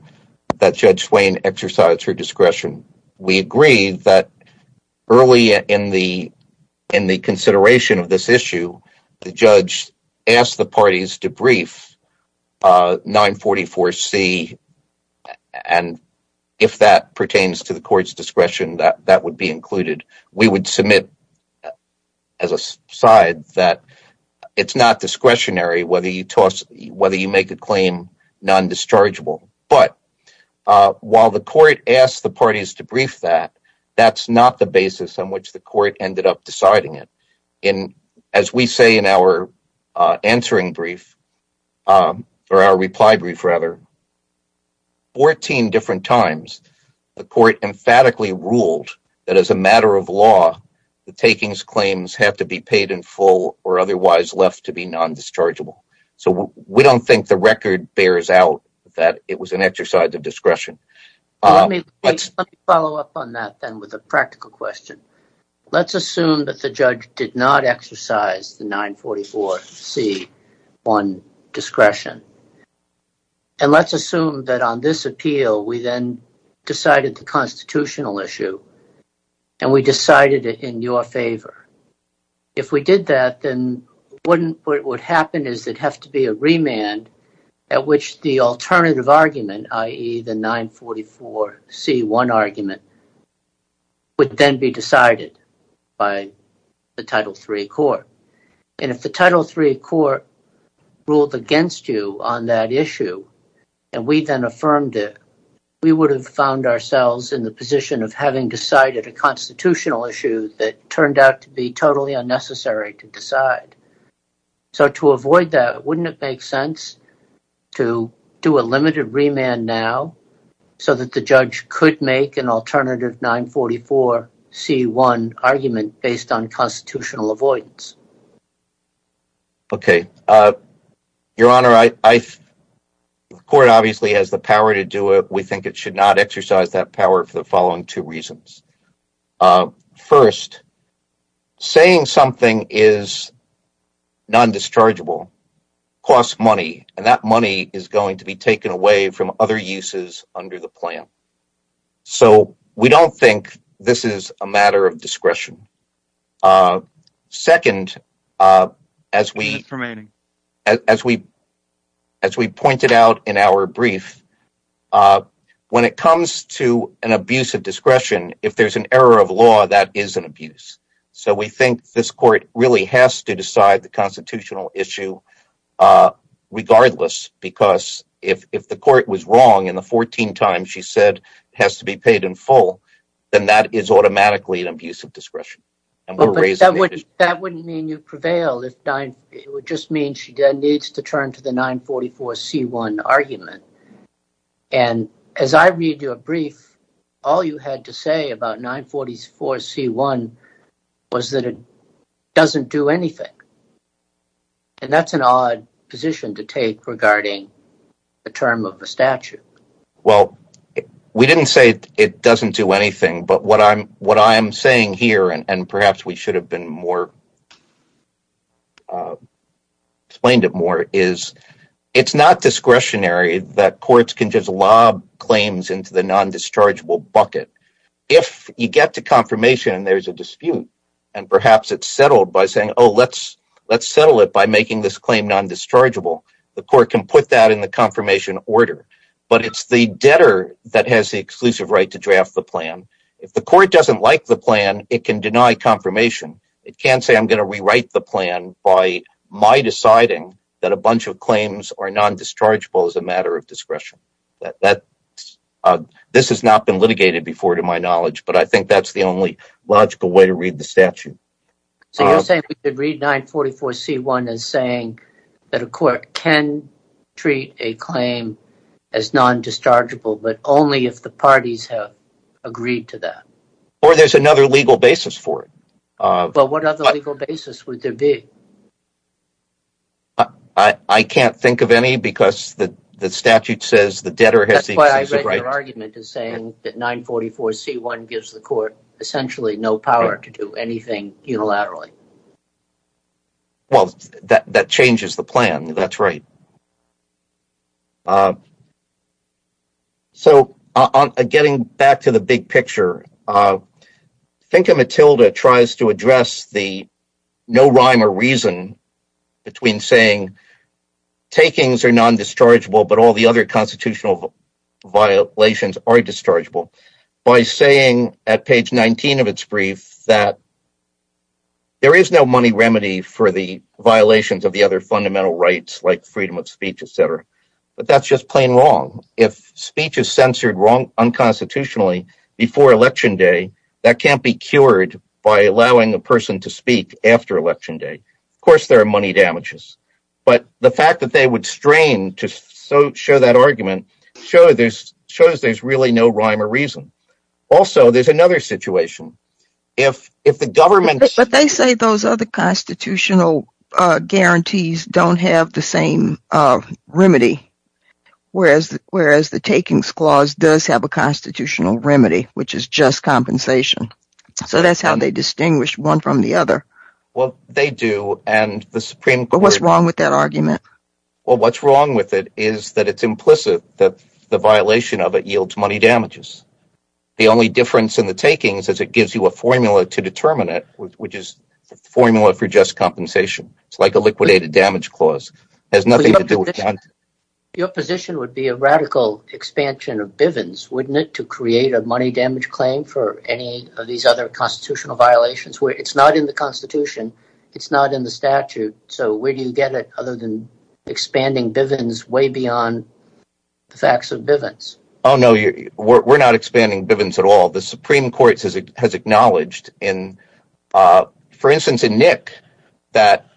that Judge Swain exercised her discretion. We agree that early in the consideration of this issue, the judge asked the parties to brief 944C, and if that pertains to the court's discretion, that would be included. We would submit as a side that it's not discretionary whether you make a claim non-dischargeable. But while the court asked the parties to brief that, that's not the basis on which the court ended up deciding it. As we say in our reply brief, 14 different times the court emphatically ruled that as a matter of law, the takings claims have to be paid in full or otherwise left to be non-dischargeable. So we don't think the record bears out that it was an exercise of discretion. Let me follow up on that then with a practical question. Let's assume that the judge did not exercise 944C on discretion, and let's assume that on this appeal we then decided the constitutional issue, and we decided it in your favor. If we did that, then what would happen is it would have to be a remand at which the alternative argument, i.e., the 944C1 argument, would then be decided by the Title III Court. And if the Title III Court ruled against you on that issue, and we then affirmed it, we would have found ourselves in the position of having decided a constitutional issue that turned out to be totally unnecessary to decide. So to avoid that, wouldn't it make sense to do a limited remand now so that the judge could make an alternative 944C1 argument based on constitutional avoidance? Okay. Your Honor, the Court obviously has the power to do it. We think it should not exercise that power for the following two reasons. First, saying something is non-dischargeable costs money, and that money is going to be taken away from other uses under the plan. So we don't think this is a matter of discretion. Second, as we pointed out in our brief, when it comes to an abuse of discretion, if there's an error of law, that is an abuse. So we think this Court really has to decide the constitutional issue regardless, because if the Court was wrong and the 14 times she said it has to be paid in full, then that is automatically an abuse of discretion. That wouldn't mean you prevailed. It would just mean she needs to turn to the 944C1 argument. And as I read your brief, all you had to say about 944C1 was that it doesn't do anything. And that's an odd position to take regarding the term of the statute. Well, we didn't say it doesn't do anything, but what I'm saying here, and perhaps we should have explained it more, is it's not discretionary that courts can just lob claims into the non-dischargeable bucket. If you get to confirmation and there's a dispute, and perhaps it's settled by saying, oh, let's settle it by making this claim non-dischargeable, the Court can put that in the confirmation order. But it's the debtor that has the exclusive right to draft the plan. If the Court doesn't like the plan, it can deny confirmation. It can't say I'm going to rewrite the plan by my deciding that a bunch of claims are non-dischargeable as a matter of discretion. This has not been litigated before to my knowledge, So you're saying we could read 944C1 as saying that a court can treat a claim as non-dischargeable, but only if the parties have agreed to that. Or there's another legal basis for it. But what other legal basis would there be? I can't think of any, because the statute says the debtor has the exclusive right. Your argument is saying that 944C1 gives the Court essentially no power to do anything unilaterally. Well, that changes the plan. That's right. So getting back to the big picture, think of a tilde tries to address the no rhyme or reason between saying takings are non-dischargeable but all the other constitutional violations are dischargeable by saying at page 19 of its brief that there is no money remedy for the violations of the other fundamental rights, like freedom of speech, etc. But that's just plain wrong. If speech is censored unconstitutionally before Election Day, that can't be cured by allowing a person to speak after Election Day. Of course there are money damages. But the fact that they would strain to show that argument shows there's really no rhyme or reason. Also, there's another situation. But they say those other constitutional guarantees don't have the same remedy, whereas the takings clause does have a constitutional remedy, which is just compensation. So that's how they distinguish one from the other. Well, they do. But what's wrong with that argument? What's wrong with it is that it's implicit that the violation of it yields money damages. The only difference in the takings is it gives you a formula to determine it, which is a formula for just compensation. It's like a liquidated damage clause. It has nothing to do with that. Your position would be a radical expansion of Bivens, wouldn't it, to create a money damage claim for any of these other constitutional violations? It's not in the Constitution. It's not in the statute. So where do you get it other than expanding Bivens way beyond the facts of Bivens? Oh, no. We're not expanding Bivens at all. The Supreme Court has acknowledged, for instance, in Nick, that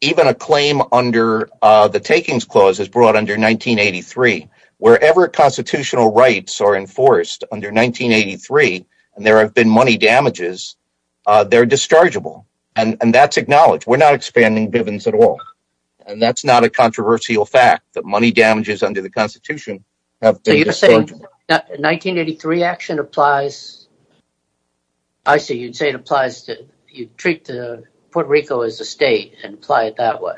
even a claim under the takings clause is brought under 1983. Wherever constitutional rights are enforced under 1983, and there have been money damages, they're dischargeable. And that's acknowledged. We're not expanding Bivens at all. And that's not a controversial fact, that money damages under the Constitution... So you're saying that 1983 action applies... I see. You'd say it applies to... You treat Puerto Rico as a state and apply it that way.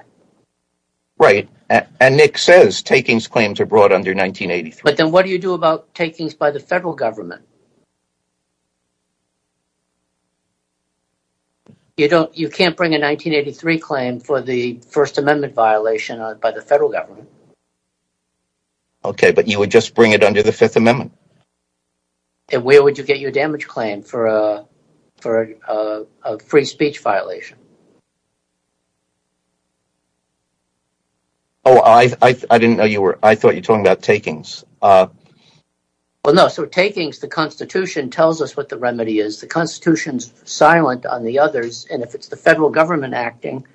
Right. And Nick says takings claims are brought under 1983. But then what do you do about takings by the federal government? You can't bring a 1983 claim for the First Amendment violation by the federal government. Okay, but you would just bring it under the Fifth Amendment. And where would you get your damage claim for a free speech violation? Oh, I didn't know you were... I thought you were talking about takings. Well, no. So takings, the Constitution tells us what the remedy is. The Constitution's silent on the others. And if it's the federal government acting,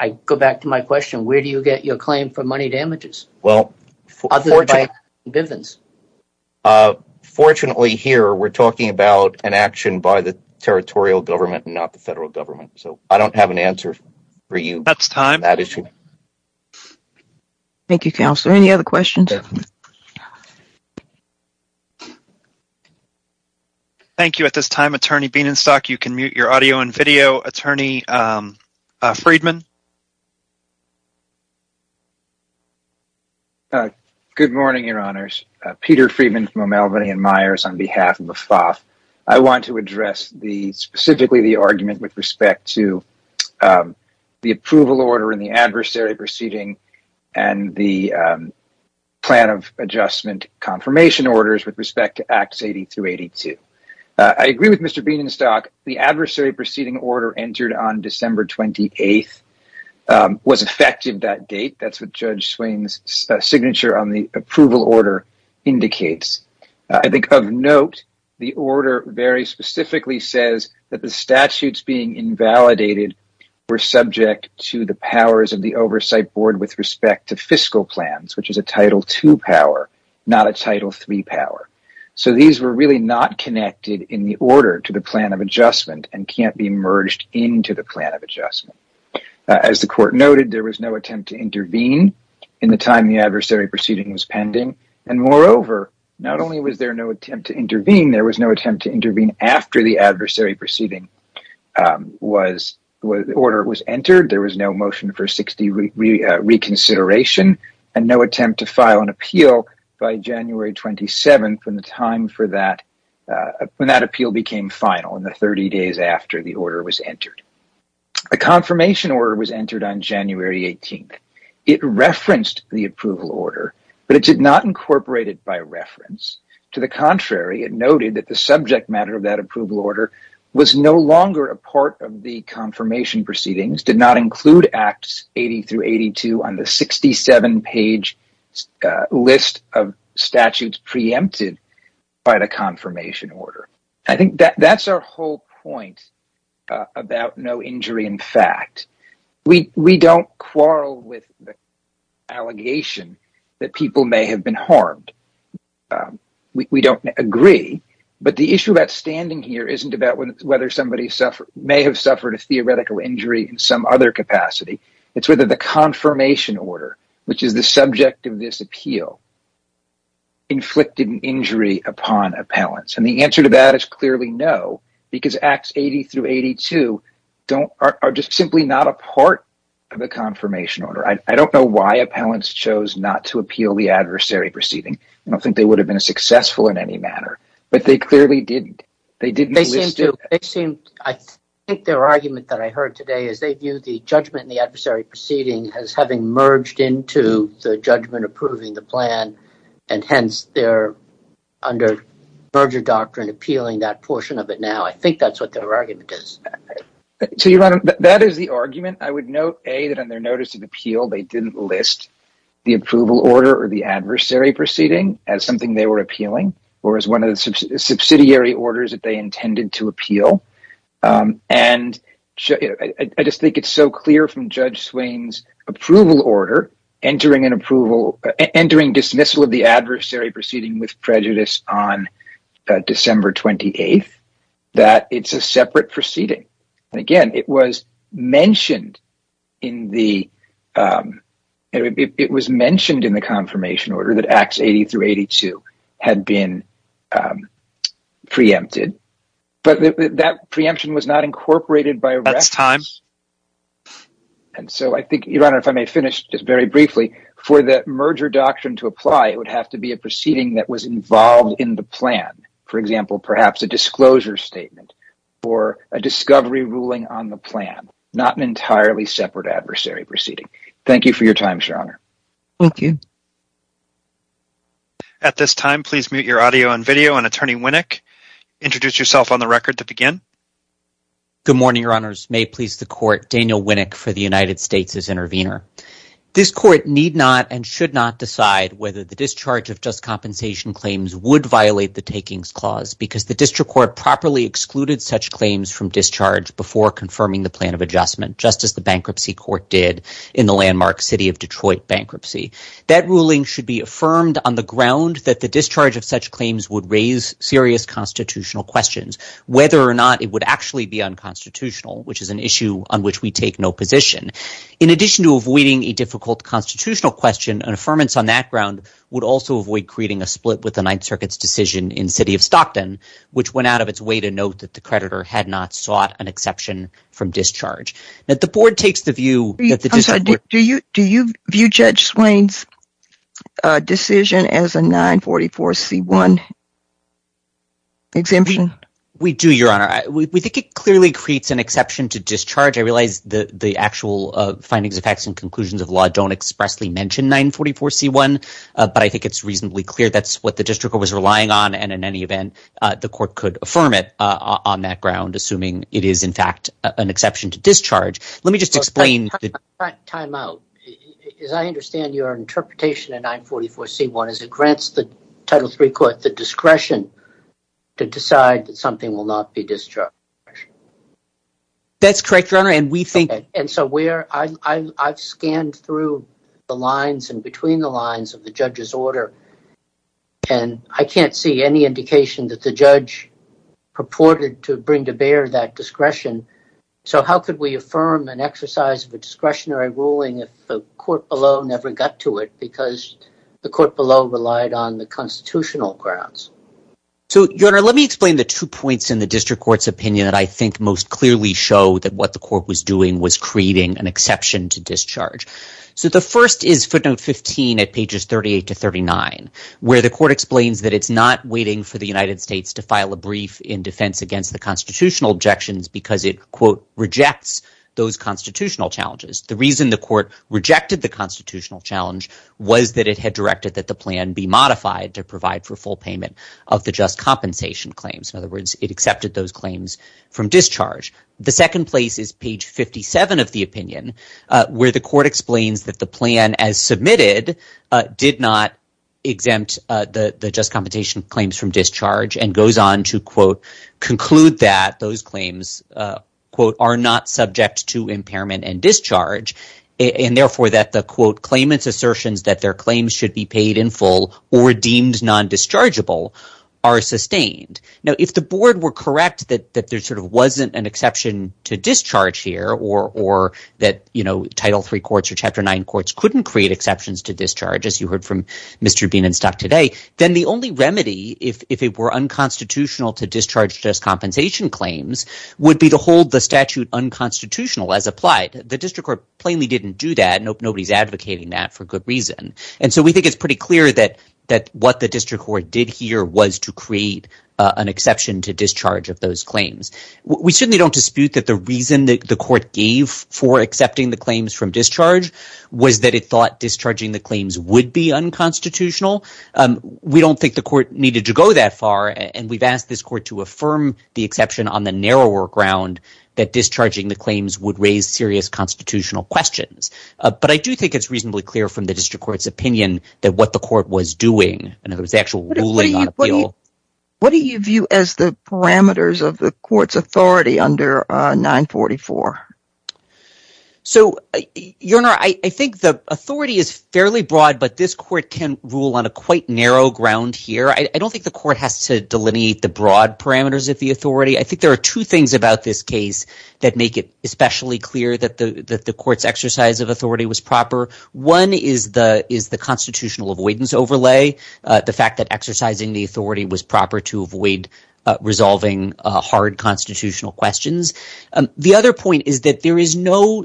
I go back to my question. Where do you get your claim for money damages? Well, fortunately here, we're talking about an action by the territorial government and not the federal government. So I don't have an answer for you. That's time. Thank you, Counselor. Any other questions? Thank you. At this time, Attorney Bienenstock, you can mute your audio and video. Attorney Friedman? Good morning, Your Honors. Peter Friedman from O'Malley & Myers on behalf of the FAFSA. I want to address specifically the argument with respect to the approval order and the adversary proceeding and the plan of adjustment confirmation orders with respect to Acts 80-82. I agree with Mr. Bienenstock. The adversary proceeding order entered on December 28th was effective that date. That's what Judge Swain's signature on the approval order indicates. I think of note, the order very specifically says that the statutes being invalidated were subject to the powers of the oversight board with respect to fiscal plans, which is a Title II power, not a Title III power. So these were really not connected in the order to the plan of adjustment and can't be merged into the plan of adjustment. As the court noted, there was no attempt to intervene in the time the adversary proceeding was pending. Moreover, not only was there no attempt to intervene, there was no attempt to intervene after the adversary proceeding order was entered. There was no motion for 60 reconsideration and no attempt to file an appeal by January 27th when that appeal became final and the 30 days after the order was entered. A confirmation order was entered on January 18th. It referenced the approval order, but it did not incorporate it by reference. To the contrary, it noted that the subject matter of that approval order was no longer a part of the confirmation proceedings, did not include Acts 80 through 82 on the 67-page list of statutes preempted by the confirmation order. I think that's our whole point about no injury in fact. We don't quarrel with the allegation that people may have been harmed. We don't agree, but the issue that's standing here isn't about whether somebody may have suffered a theoretical injury in some other capacity. It's whether the confirmation order, which is the subject of this appeal, inflicted an injury upon appellants. And the answer to that is clearly no, because Acts 80 through 82 are just simply not a part of the confirmation order. I don't know why appellants chose not to appeal the adversary proceeding. I don't think they would have been successful in any manner, but they clearly didn't. I think their argument that I heard today is they view the judgment in the adversary proceeding as having merged into the judgment approving the plan, and hence they're under merger doctrine appealing that portion of it now. I think that's what their argument is. That is the argument. I would note, A, that on their notice of appeal they didn't list the approval order or the adversary proceeding as something they were appealing or as one of the subsidiary orders that they intended to appeal. And I just think it's so clear from Judge Slane's approval order, entering dismissal of the adversary proceeding with prejudice on December 28th, that it's a separate proceeding. Again, it was mentioned in the confirmation order that Acts 80 through 82 had been preempted, but that preemption was not incorporated by reference. And so I think, Your Honor, if I may finish just very briefly, for the merger doctrine to apply, it would have to be a proceeding that was involved in the plan. For example, perhaps a disclosure statement or a discovery ruling on the plan, not an entirely separate adversary proceeding. Thank you for your time, Your Honor. Thank you. At this time, please mute your audio and video, and Attorney Winnick, introduce yourself on the record to begin. Good morning, Your Honors. May it please the Court, Daniel Winnick for the United States as intervener. This Court need not and should not decide whether the discharge of just compensation claims would violate the takings clause because the district court properly excluded such claims from discharge before confirming the plan of adjustment, just as the bankruptcy court did in the landmark city of Detroit bankruptcy. That ruling should be affirmed on the ground that the discharge of such claims would raise serious constitutional questions, whether or not it would actually be unconstitutional, which is an issue on which we take no position. In addition to avoiding a difficult constitutional question, an affirmance on that ground would also avoid creating a split with the Ninth Circuit's decision in the city of Stockton, which went out of its way to note that the creditor had not sought an exception from discharge. Now, if the Board takes the view... I'm sorry, do you view Judge Swain's decision as a 944C1 exemption? We do, Your Honor. We think it clearly creates an exception to discharge. I realize the actual findings, effects, and conclusions of the law don't expressly mention 944C1, but I think it's reasonably clear that's what the district court was relying on, and in any event, the court could affirm it on that ground, assuming it is, in fact, an exception to discharge. Let me just explain... Time out. As I understand, your interpretation of 944C1 is it grants the Title III court the discretion to decide that something will not be discharged. That's correct, Your Honor, and we think... And so I've scanned through the lines and between the lines of the judge's order, and I can't see any indication that the judge purported to bring to bear that discretion, so how could we affirm an exercise of a discretionary ruling if the court below never got to it because the court below relied on the constitutional grounds? So, Your Honor, let me explain the two points in the district court's opinion that I think most clearly show that what the court was doing was creating an exception to discharge. So the first is footnote 15 at pages 38 to 39, where the court explains that it's not waiting for the United States to file a brief in defense against the constitutional objections because it, quote, rejects those constitutional challenges. The reason the court rejected the constitutional challenge was that it had directed that the plan be modified to provide for full payment of the just compensation claims. In other words, it accepted those claims from discharge. The second place is page 57 of the opinion, where the court explains that the plan, as submitted, did not exempt the just compensation claims from discharge and goes on to, quote, conclude that those claims, quote, are not subject to impairment and discharge and, therefore, that the, quote, claimant's assertions that their claims should be paid in full or deemed non-dischargeable are sustained. Now, if the board were correct that there sort of wasn't an exception to discharge here or that, you know, Title III courts or Chapter IX courts couldn't create exceptions to discharge, as you heard from Mr. Bean and staff today, then the only remedy, if it were unconstitutional to discharge just compensation claims, would be to hold the statute unconstitutional as applied. The district court plainly didn't do that. Nobody's advocating that for good reason. And so we think it's pretty clear that what the district court did here was to create an exception to discharge of those claims. We certainly don't dispute that the reason the court gave for accepting the claims from discharge was that it thought discharging the claims would be unconstitutional. We don't think the court needed to go that far, and we've asked this court to affirm the exception on the narrower ground that discharging the claims would raise serious constitutional questions. But I do think it's reasonably clear from the district court's opinion that what the court was doing, the actual ruling on the bill... What do you view as the parameters of the court's authority under 944? So, Your Honor, I think the authority is fairly broad, but this court can rule on a quite narrow ground here. I don't think the court has to delineate the broad parameters of the authority. I think there are two things about this case that make it especially clear that the court's exercise of authority was proper. One is the constitutional avoidance overlay, the fact that exercising the authority was proper to avoid resolving hard constitutional questions. The other point is that there is no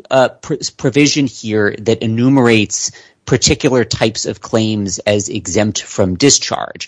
provision here that enumerates particular types of claims as exempt from discharge.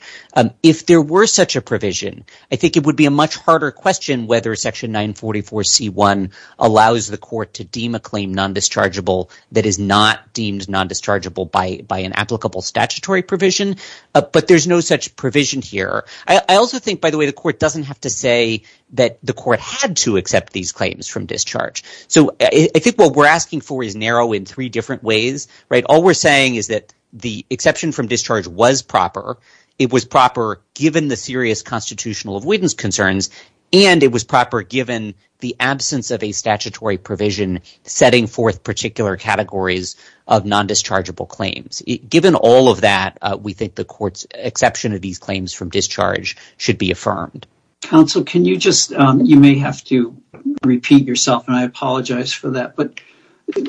If there were such a provision, I think it would be a much harder question whether Section 944C1 allows the court to deem a claim non-dischargeable that is not deemed non-dischargeable by an applicable statutory provision. But there's no such provision here. I also think, by the way, the court doesn't have to say that the court had to accept these claims from discharge. I think what we're asking for is narrow in three different ways. All we're saying is that the exception from discharge was proper, it was proper given the serious constitutional avoidance concerns, and it was proper given the absence of a statutory provision setting forth particular categories of non-dischargeable claims. Given all of that, we think the court's exception of these claims from discharge should be affirmed. Counsel, you may have to repeat yourself. I apologize for that.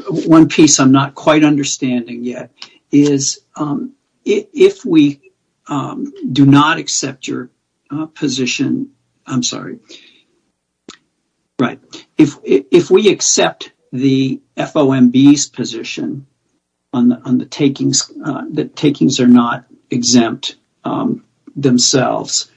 One piece I'm not quite understanding yet is if we do not accept your position... I'm sorry. Right. If we accept the FOMB's position that takings are not exempt themselves,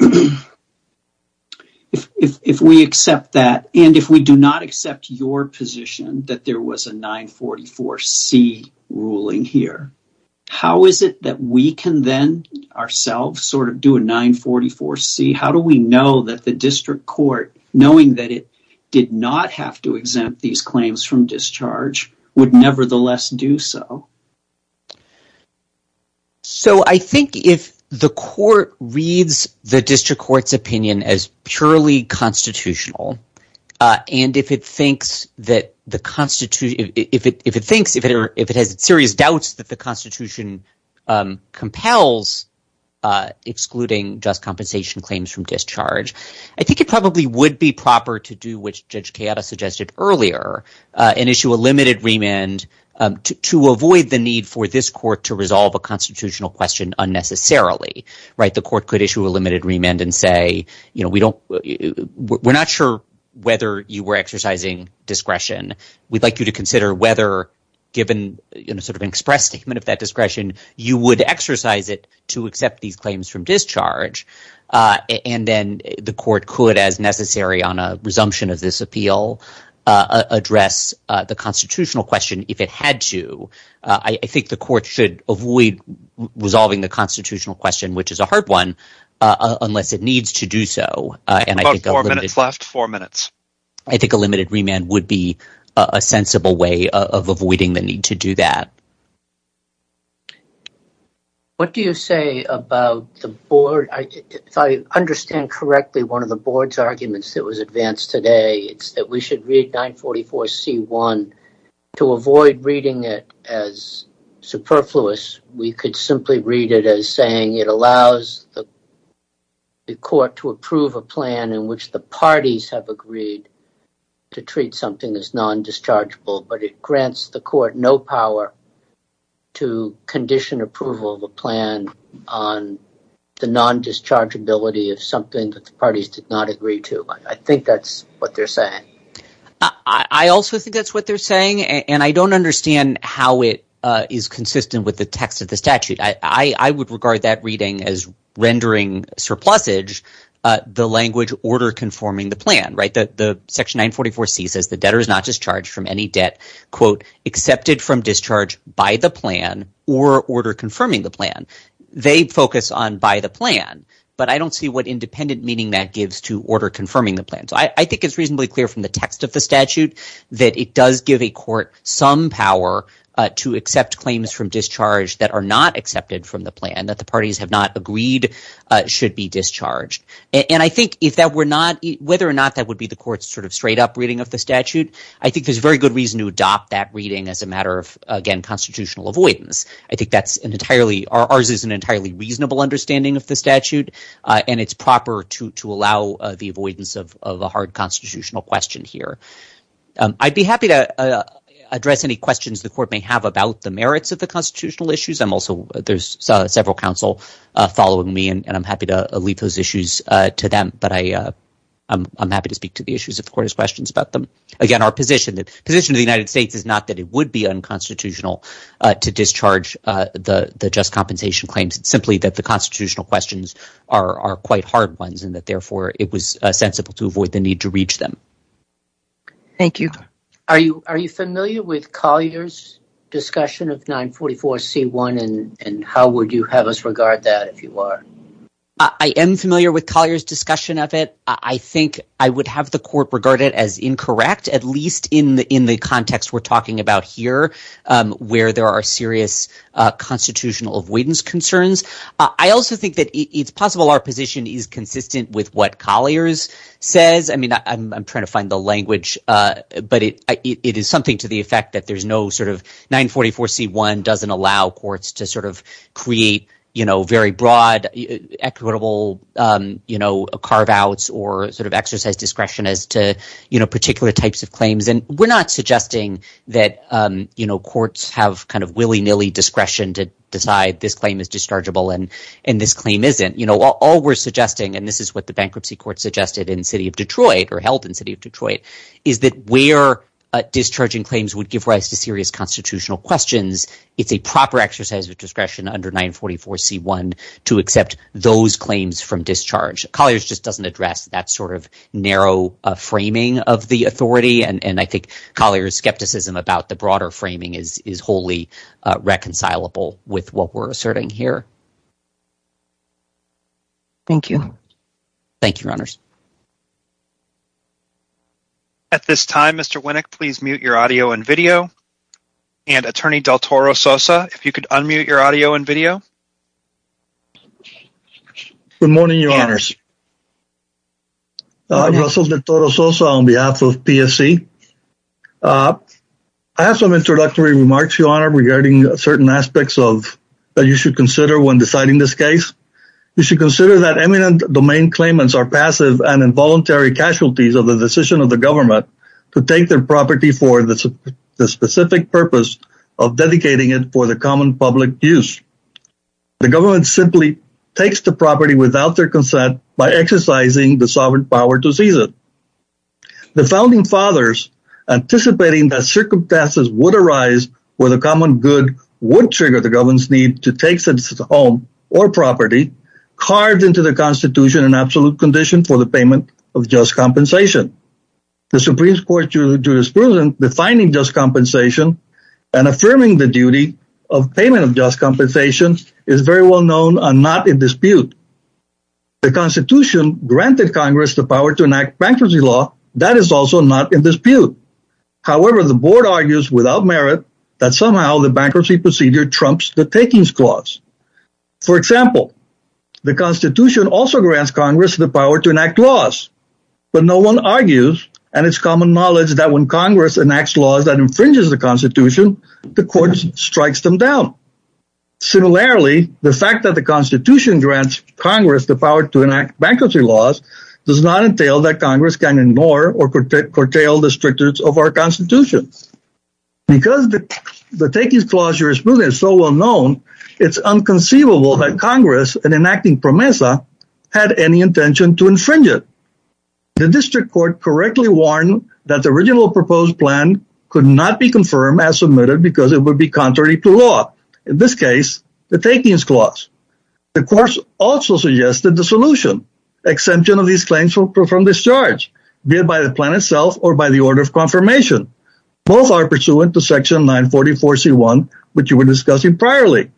if we accept that, and if we do not accept your position that there was a 944C ruling here, how is it that we can then, ourselves, sort of do a 944C? How do we know that the district court, knowing that it did not have to exempt these claims from discharge, would nevertheless do so? So I think if the court reads the district court's opinion as purely constitutional, and if it thinks that the Constitution... If it thinks, if it has serious doubts that the Constitution compels excluding just compensation claims from discharge, I think it probably would be proper to do what Judge Tejada suggested earlier and issue a limited remand to avoid the need for this court to resolve a constitutional question unnecessarily. Right? The court could issue a limited remand and say, you know, we don't... We're not sure whether you were exercising discretion. We'd like you to consider whether, given sort of an express statement of that discretion, you would exercise it to accept these claims from discharge. And then the court could, as necessary on a resumption of this appeal, address the constitutional question if it had to. I think the court should avoid resolving the constitutional question, which is a hard one, unless it needs to do so. About four minutes. Last four minutes. I think a limited remand would be a sensible way of avoiding the need to do that. What do you say about the board? If I understand correctly, one of the board's arguments that was advanced today is that we should read 944C1. To avoid reading it as superfluous, we could simply read it as saying it allows the court to approve a plan in which the parties have agreed to treat something as non-dischargeable, but it grants the court no power to condition approval of a plan on the non-dischargeability of something that the parties did not agree to. I think that's what they're saying. I also think that's what they're saying, and I don't understand how it is consistent with the text of the statute. I would regard that reading as rendering surplusage the language order confirming the plan. Section 944C says the debtor is not discharged from any debt quote, accepted from discharge by the plan or order confirming the plan. They focus on by the plan, but I don't see what independent meaning that gives to order confirming the plan. I think it's reasonably clear from the text of the statute that it does give a court some power to accept claims from discharge that are not accepted from the plan, that the parties have not agreed should be discharged. I think whether or not that would be the court's straight-up reading of the statute, I think there's very good reason to adopt that reading as a matter of constitutional avoidance. Ours is an entirely reasonable understanding of the statute, and it's proper to allow the avoidance of a hard constitutional question here. I'd be happy to address any questions the court may have about the merits of the constitutional issues. There's several counsel following me, and I'm happy to leave those issues to them, but I'm happy to speak to the issues if the court has questions about them. Again, our position, the position of the United States is not that it would be unconstitutional to discharge the just compensation claims, simply that the constitutional questions are quite hard ones and that, therefore, it was sensible to avoid the need to reach them. Thank you. Are you familiar with Collier's discussion of 944C1, and how would you have us regard that if you are? I am familiar with Collier's discussion of it. I think I would have the court regard it as incorrect, at least in the context we're talking about here, where there are serious constitutional avoidance concerns. I also think that it's possible our position is consistent with what Collier's says. I mean, I'm trying to find the language, but it is something to the effect that there's no sort of... 944C1 doesn't allow courts to sort of create, you know, very broad, equitable, you know, carve-outs particular types of claims, and we're not suggesting that, you know, courts have kind of willy-nilly discretion to decide this claim is dischargeable and this claim isn't. You know, all we're suggesting, and this is what the bankruptcy court suggested in the city of Detroit, or held in the city of Detroit, is that where discharging claims would give rise to serious constitutional questions, it's a proper exercise of discretion under 944C1 to accept those claims from discharge. Collier's just doesn't address that sort of narrow framing of the authority, and I think Collier's skepticism about the broader framing is wholly reconcilable with what we're asserting here. Thank you. Thank you, Your Honors. At this time, Mr. Winnick, please mute your audio and video, and Attorney Del Toro Sosa, if you could unmute your audio and video. Good morning, Your Honors. I'm Russell Del Toro Sosa on behalf of PSC. I have some introductory remarks, Your Honor, regarding certain aspects that you should consider when deciding this case. You should consider that eminent domain claimants are passive and involuntary casualties of the decision of the government to take their property for the specific purpose of dedicating it for the common public use. The government simply takes the property without their consent by exercising the sovereign power to seize it. The founding fathers, anticipating that circumstances would arise where the common good would trigger the government's need to take the home or property, carved into the Constitution an absolute condition for the payment of just compensation. The Supreme Court's jurisprudence defining just compensation and affirming the duty of payment of just compensation is very well known and not in dispute. The Constitution granted Congress the power to enact bankruptcy law. That is also not in dispute. However, the board argues without merit that somehow the bankruptcy procedure trumps the takings clause. For example, the Constitution also grants Congress the power to enact laws, but no one argues and it's common knowledge that when Congress enacts laws that infringes the Constitution, the court strikes them down. Similarly, the fact that the Constitution grants Congress the power to enact bankruptcy laws does not entail that Congress can ignore or curtail the strictness of our Constitution. Because the takings clause jurisprudence is so well known, it's unconceivable that Congress, in enacting PROMESA, had any intention to infringe it. The district court correctly warned that the original proposed plan could not be confirmed as submitted because it would be contrary to law. In this case, the takings clause. The courts also suggested the solution, exemption of these claims from discharge, be it by the plan itself or by the order of confirmation. Both are pursuant to section 944C1, which you were discussing priorly.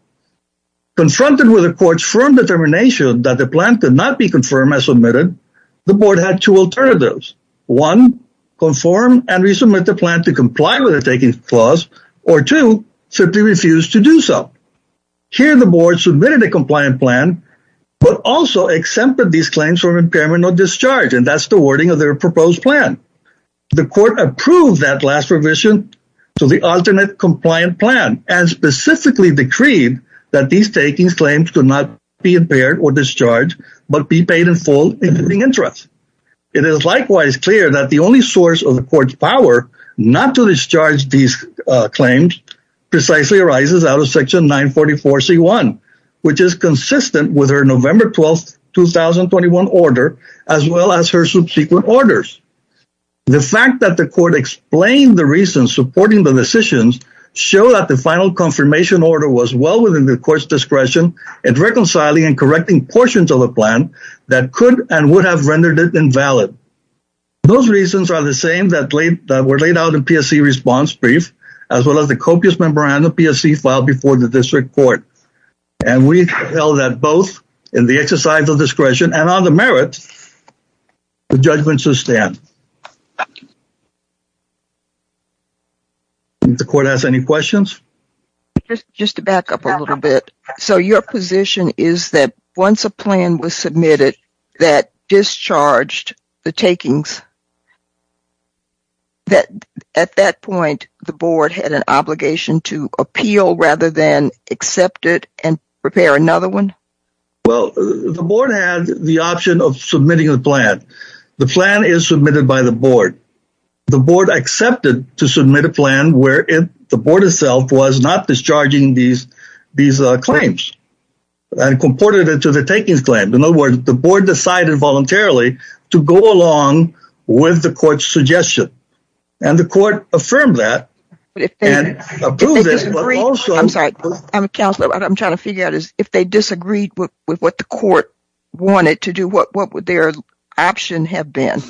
Confronted with the court's firm determination that the plan could not be confirmed as submitted, the board had two alternatives. One, conform and resubmit the plan to comply with the takings clause, or two, simply refuse to do so. Here, the board submitted a compliant plan, but also exempted these claims from impairment or discharge, and that's the wording of their proposed plan. The court approved that last provision to the alternate compliant plan and specifically decreed that these takings claims do not be impaired or discharged, but be paid in full interest. It is likewise clear that the only source of the court's power not to discharge these claims precisely arises out of section 944C1, which is consistent with her November 12th, 2021 order, as well as her subsequent orders. The fact that the court explained the reasons supporting the decisions show that the final confirmation order was well within the court's discretion in reconciling and correcting portions of the plan that could and would have rendered it invalid. Those reasons are the same that were laid out in PSC response brief, as well as the copious memorandum PSC filed before the district court, and we held that both in the exercise of discretion and on the merits, the judgment should stand. Did the court ask any questions? Just to back up a little bit, so your position is that once a plan was submitted that discharged the takings, that at that point, the board had an obligation to appeal rather than accept it and prepare another one? Well, the board had the option of submitting a plan. The plan is submitted by the board. The board accepted to submit a plan where the board itself was not discharging these claims and comported it to the takings plan. In other words, the board decided voluntarily to go along with the court's suggestion and the court affirmed that and approved it. I'm sorry. I'm a counselor. I'm trying to figure out if they disagreed with what the court wanted to do, what would their option have been?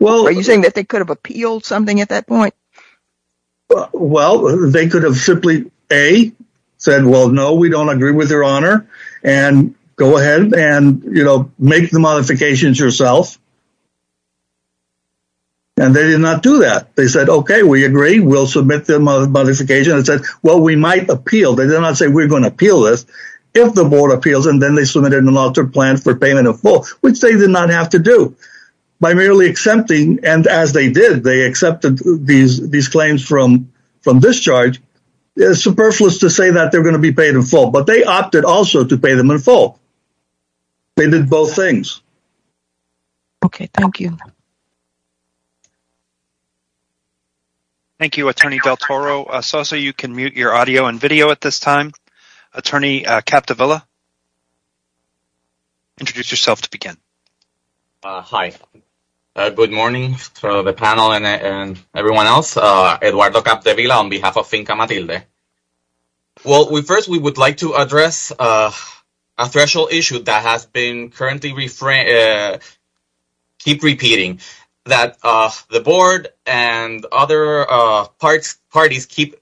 Well, are you saying that they could have appealed something at that point? Well, they could have simply A, said, well, no, we don't agree with your honor and go ahead and make the modifications yourself. And they did not do that. They said, okay, we agree. We'll submit the modification. It said, well, we might appeal. They did not say we're going to appeal this. If the board appeals and then they submitted an alter plan for payment of full, which they did not have to do by merely accepting. And as they did, they accepted these claims from discharge. It's superfluous to say that they're going to be paid in full, but they opted also to pay them in full. They did both things. Okay. Thank you. Thank you, attorney Del Toro. Sosa, you can mute your audio and video at this time. Attorney Capdevila, introduce yourself to begin. Hi. Good morning to the panel and everyone else. Eduardo Capdevila on behalf of Finca Matilde. Well, first we would like to address a threshold issue that has been currently keep repeating, that the board and other parties keep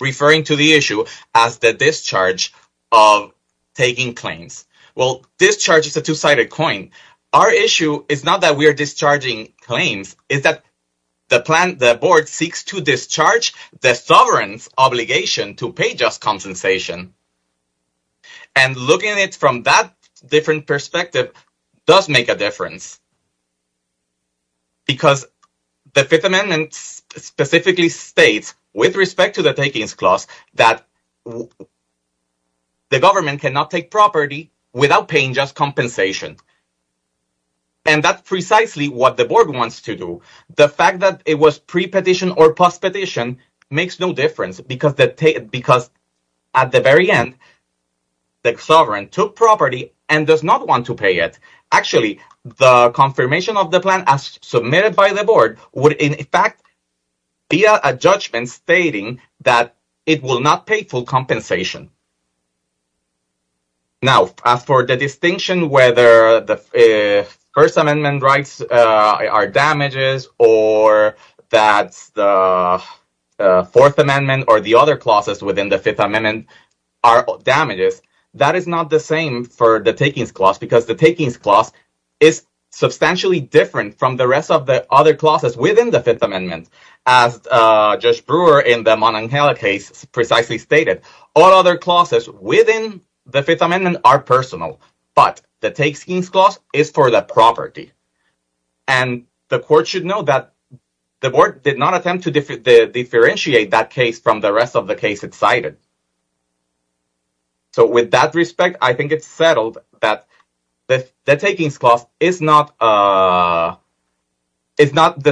referring to the issue as the discharge of taking claims. Well, discharge is a two-sided coin. Our issue is not that we are discharging claims. It's that the board seeks to discharge the sovereign's obligation to pay just compensation. And looking at it from that different perspective does make a difference. Because the Fifth Amendment specifically states with respect to the takings clause that the government cannot take property without paying just compensation. And that's precisely what the board wants to do. The fact that it was pre-petition or post-petition makes no difference because at the very end the sovereign took property and does not want to pay it. Actually, the confirmation of the plan as submitted by the board would in fact be a judgment stating that it will not pay full compensation. Now, as for the distinction whether the First Amendment rights are damages or that the Fourth Amendment or the other clauses within the Fifth Amendment are damages, that is not the same for the takings clause because the takings clause is substantially different from the rest of the other clauses within the Fifth Amendment. As Judge Brewer in the Mananjela case precisely stated, all other clauses within the Fifth Amendment are personal. But the takings clause is for the property. And the court should know that the board did not attempt to differentiate that case from the rest of the cases cited. So with that respect, I think it's settled that the takings clause is not the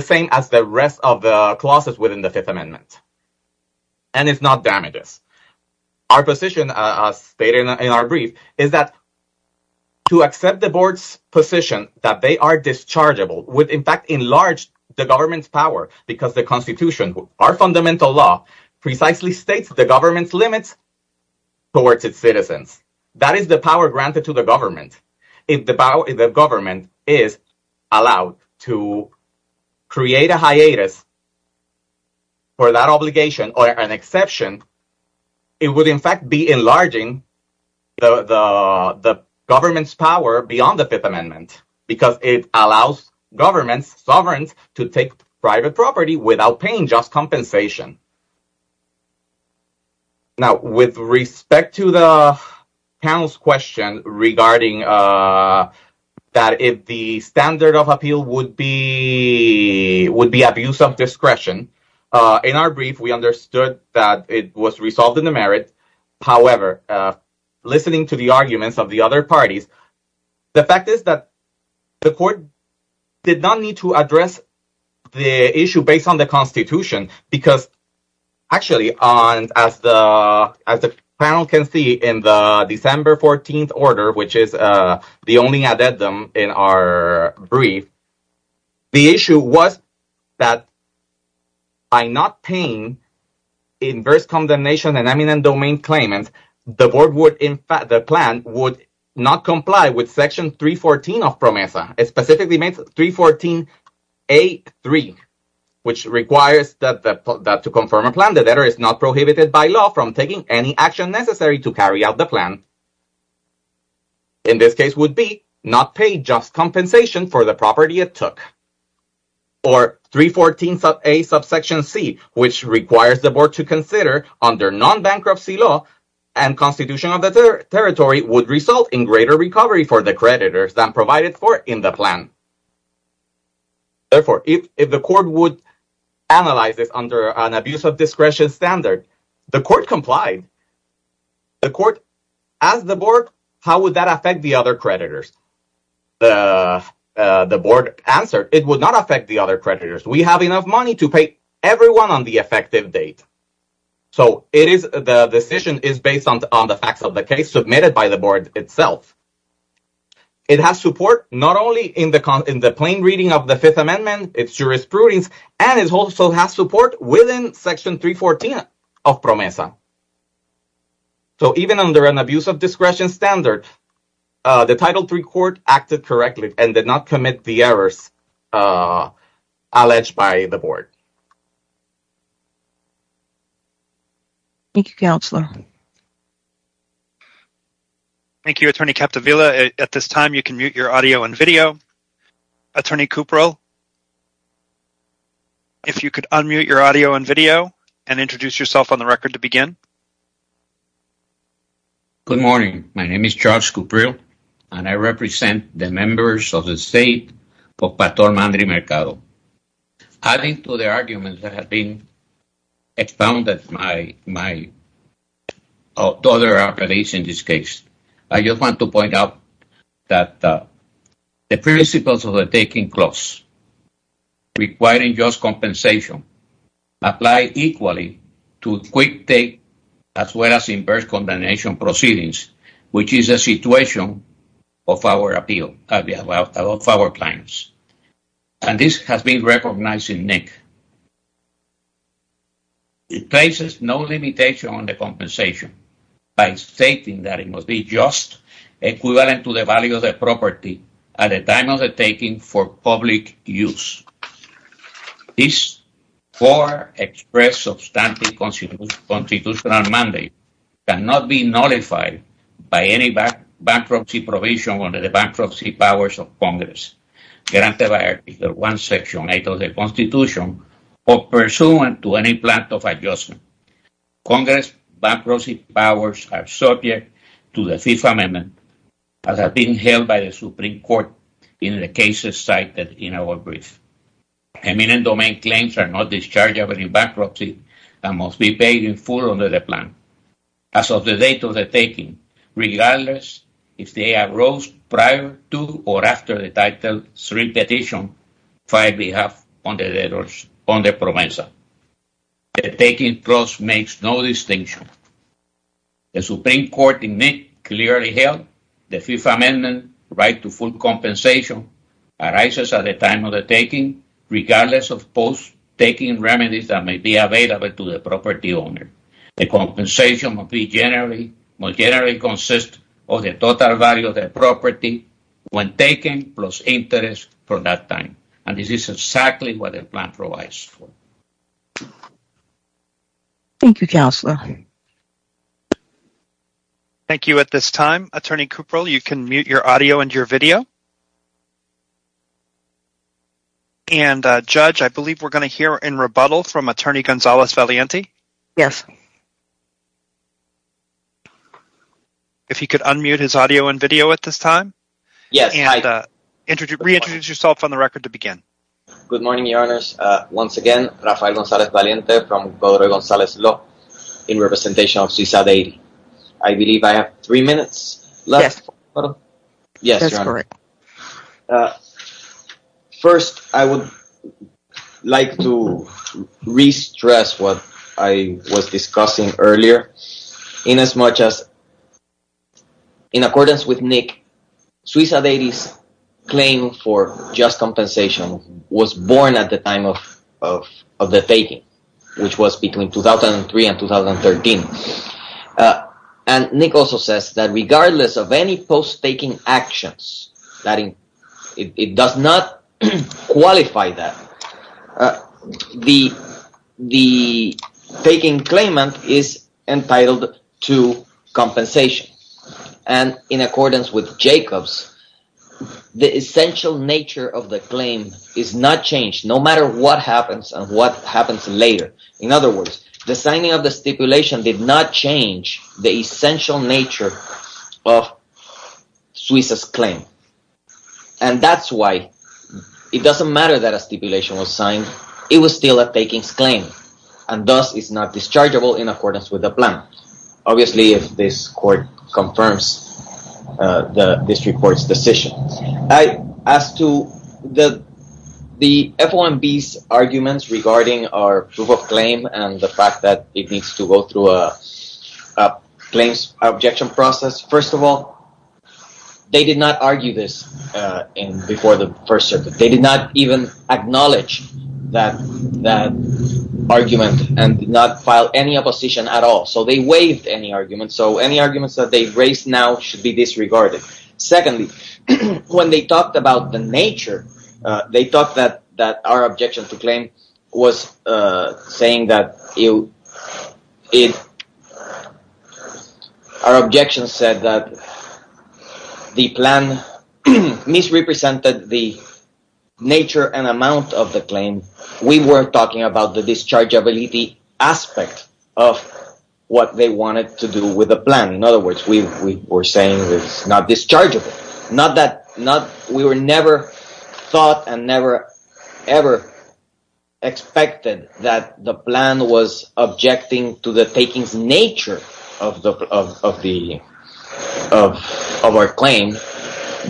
same as the rest of the clauses within the Fifth Amendment. And it's not damages. Our position, as stated in our brief, is that to accept the board's position that they are dischargeable would in fact enlarge the government's power because the Constitution, our fundamental law, precisely states the government's limits towards its citizens. That is the power granted to the government. If the government is allowed to create a hiatus for that obligation or an exception, it would in fact be enlarging the government's power beyond the Fifth Amendment because it allows government sovereigns to take private property without paying just compensation. Now, with respect to the panel's question regarding that if the standard of appeal would be abuse of discretion, in our brief we understood that it was resolved in the merits. However, listening to the arguments of the other parties, the fact is that the court did not need to address the issue based on the Constitution because actually, as the panel can see, in the December 14th order, which is the only addendum in our brief, the issue was that by not paying inverse condemnation and eminent domain claimant, the plan would not comply with Section 314 of PROMESA. It specifically makes 314a.3, which requires that to confirm a plan, the debtor is not prohibited by law from taking any action necessary to carry out the plan. In this case would be not pay just compensation for the property it took. Or 314a.c, which requires the board to consider under non-bankruptcy law and Constitution of the Territory would result in greater recovery for the creditors than provided for in the plan. Therefore, if the court would analyze it under an abuse of discretion standard, the court complied. The court asked the board, how would that affect the other creditors? The board answered, it would not affect the other creditors. We have enough money to pay everyone on the effective date. So the decision is based on the facts of the case submitted by the board itself. It has support not only in the plain reading of the Fifth Amendment, its jurisprudence, and it also has support within Section 314 of PROMESA. So even under an abuse of discretion standard, the Title III Court acted correctly and did not commit the errors alleged by the board. Thank you, Counselor. Thank you, Attorney Capdevila. At this time, you can mute your audio and video. Attorney Cuprell, if you could unmute your audio and video and introduce yourself on the record to begin. Good morning. My name is Charles Cuprell, and I represent the members of the State of Pator Mande Mercado. Adding to the arguments that have been expounded by my two other attorneys in this case, I just want to point out that the principles of the taking clause requiring just compensation apply equally to quick take as well as inverse condemnation proceedings, which is a situation of our appeal, of our plans. And this has been recognized in NIC. It places no limitation on the compensation by stating that it must be just, equivalent to the value of the property at the time of the taking for public use. This fore-expressed substantive constitutional mandate cannot be nullified by any bankruptcy provision under the bankruptcy powers of Congress granted by Article I, Section 8 of the Constitution or pursuant to any plan of adjustment. Congress bankruptcy powers are subject to the Fifth Amendment as has been held by the Supreme Court in the cases cited in our brief. Eminent domain claims are not dischargeable in bankruptcy and must be paid in full under the plan. As of the date of the taking, regardless if they arose prior to or after the Title III petition filed we have on the proviso. The taking clause makes no distinction. The Supreme Court in NIC clearly held the Fifth Amendment right to full compensation arises at the time of the taking regardless of post-taking remedies that may be available to the property owner. The compensation must generally consist of the total value of the property when taken plus interest for that time. And this is exactly what the plan provides for. Thank you, Counselor. Thank you. At this time, Attorney Cuperl, you can mute your audio and your video. And, Judge, I believe we're going to hear in rebuttal from Attorney Gonzales-Valiente. Yes. If he could unmute his audio and video at this time. Yes. And reintroduce yourself on the record to begin. Good morning, Your Honors. Once again, Rafael Gonzales-Valiente from Código Gonzales-Ló in representation of Suiza Day. I believe I have three minutes left? Yes. Yes, Your Honor. First, I would like to re-stress what I was discussing earlier in as much as, in accordance with NIC, Suiza Day's claim for just compensation was born at the time of the faking, which was between 2003 and 2013. And NIC also says that regardless of any post-faking actions, it does not qualify that. The faking claimant is entitled to compensation. And in accordance with Jacobs, the essential nature of the claim is not changed, no matter what happens and what happens later. In other words, the signing of the stipulation did not change the essential nature of Suiza's claim. And that's why it doesn't matter that a stipulation was signed. It was still a faking claim. And thus, it's not dischargeable in accordance with the plan. Obviously, if this court confirms this report's decision. As to the FOMB's arguments regarding our proof of claim and the fact that it needs to go through a claims objection process, first of all, they did not argue this before the First Circuit. They did not even acknowledge that argument and did not file any opposition at all. So, they waived any arguments. So, any arguments that they raise now should be disregarded. Secondly, when they talked about the nature, they talked that our objection to claim was saying that our objection said that the plan misrepresented the nature and amount of the claim. We were talking about the dischargeability aspect of what they wanted to do with the plan. In other words, we were saying it was not dischargeable. We never thought and never ever expected that the plan was objecting to the taking nature of our claim,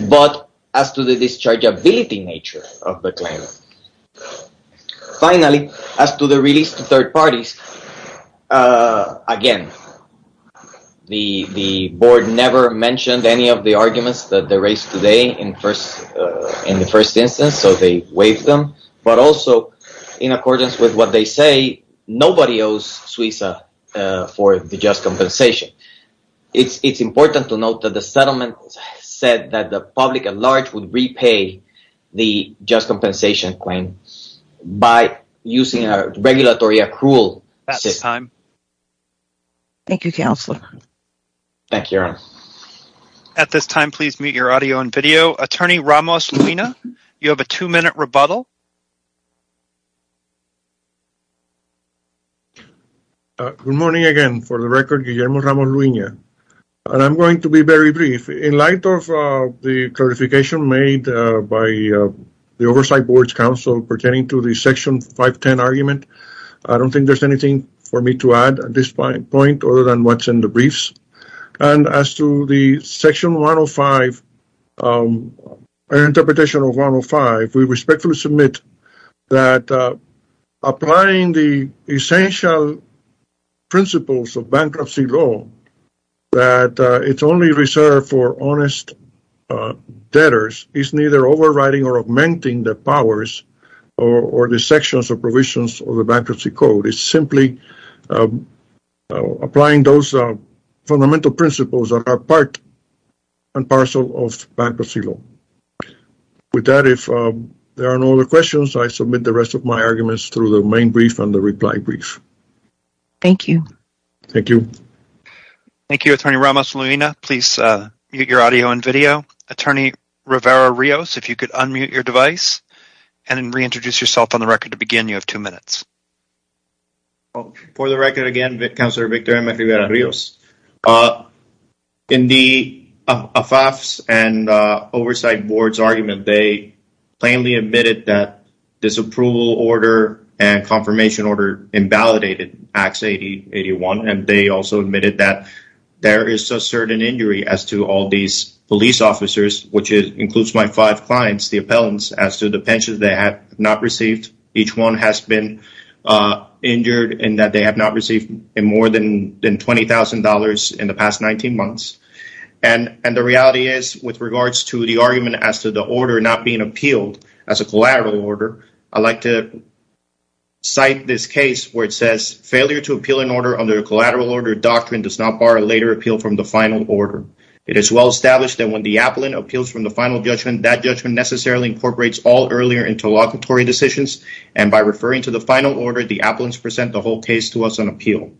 but as to the dischargeability nature of the claim. Finally, as to the release to third parties, again, the board never mentioned any of the arguments that they raised today in the first instance, so they waived them, but also in accordance with what they say, nobody owes SWISA for the just compensation. It's important to note that the settlement said that the public at large would repay the just compensation claim by using a regulatory accrual at this time. Thank you, counsel. Thank you. At this time, please mute your audio and video. Attorney Ramos-Luina, you have a two-minute rebuttal. Good morning again. For the record, Guillermo Ramos-Luina. I'm going to be very brief. In light of the clarification made by the Oversight Board's counsel pertaining to the Section 510 argument, I don't think there's anything for me to add at this point other than what's in the briefs. As to the Section 105, an interpretation of 105, we respectfully submit that applying the essential principles of bankruptcy law, that it's only reserved for honest debtors, is neither overriding or augmenting the powers or the sections or provisions of the bankruptcy code. It's simply applying those fundamental principles that are part and parcel of bankruptcy law. With that, if there are no other questions, I submit the rest of my arguments through the main brief and the reply brief. Thank you. Thank you. Thank you, Attorney Ramos-Luina. Please mute your audio and video. Attorney Rivera-Rios, if you could unmute your device and reintroduce yourself on the record to begin. You have two minutes. For the record again, Counselor Victoria Rivera-Rios. In the AFAPS and Oversight Board's argument, they plainly admitted that this approval order and confirmation order invalidated Acts 8081, and they also admitted that there is a certain injury as to all these police officers, which includes my five clients, the appellants, as to the pensions they have not received. Each one has been injured in that they have not received more than $20,000 in the past 19 months. And the reality is, with regards to the argument as to the order not being appealed as a collateral order, I'd like to cite this case where it says, failure to appeal an order under a collateral order doctrine does not bar a later appeal from the final order. It is well established that when the appellant appeals from the final judgment, that judgment necessarily incorporates all earlier interlocutory decisions, and by referring to the final order, the appellants present the whole case to us on appeal.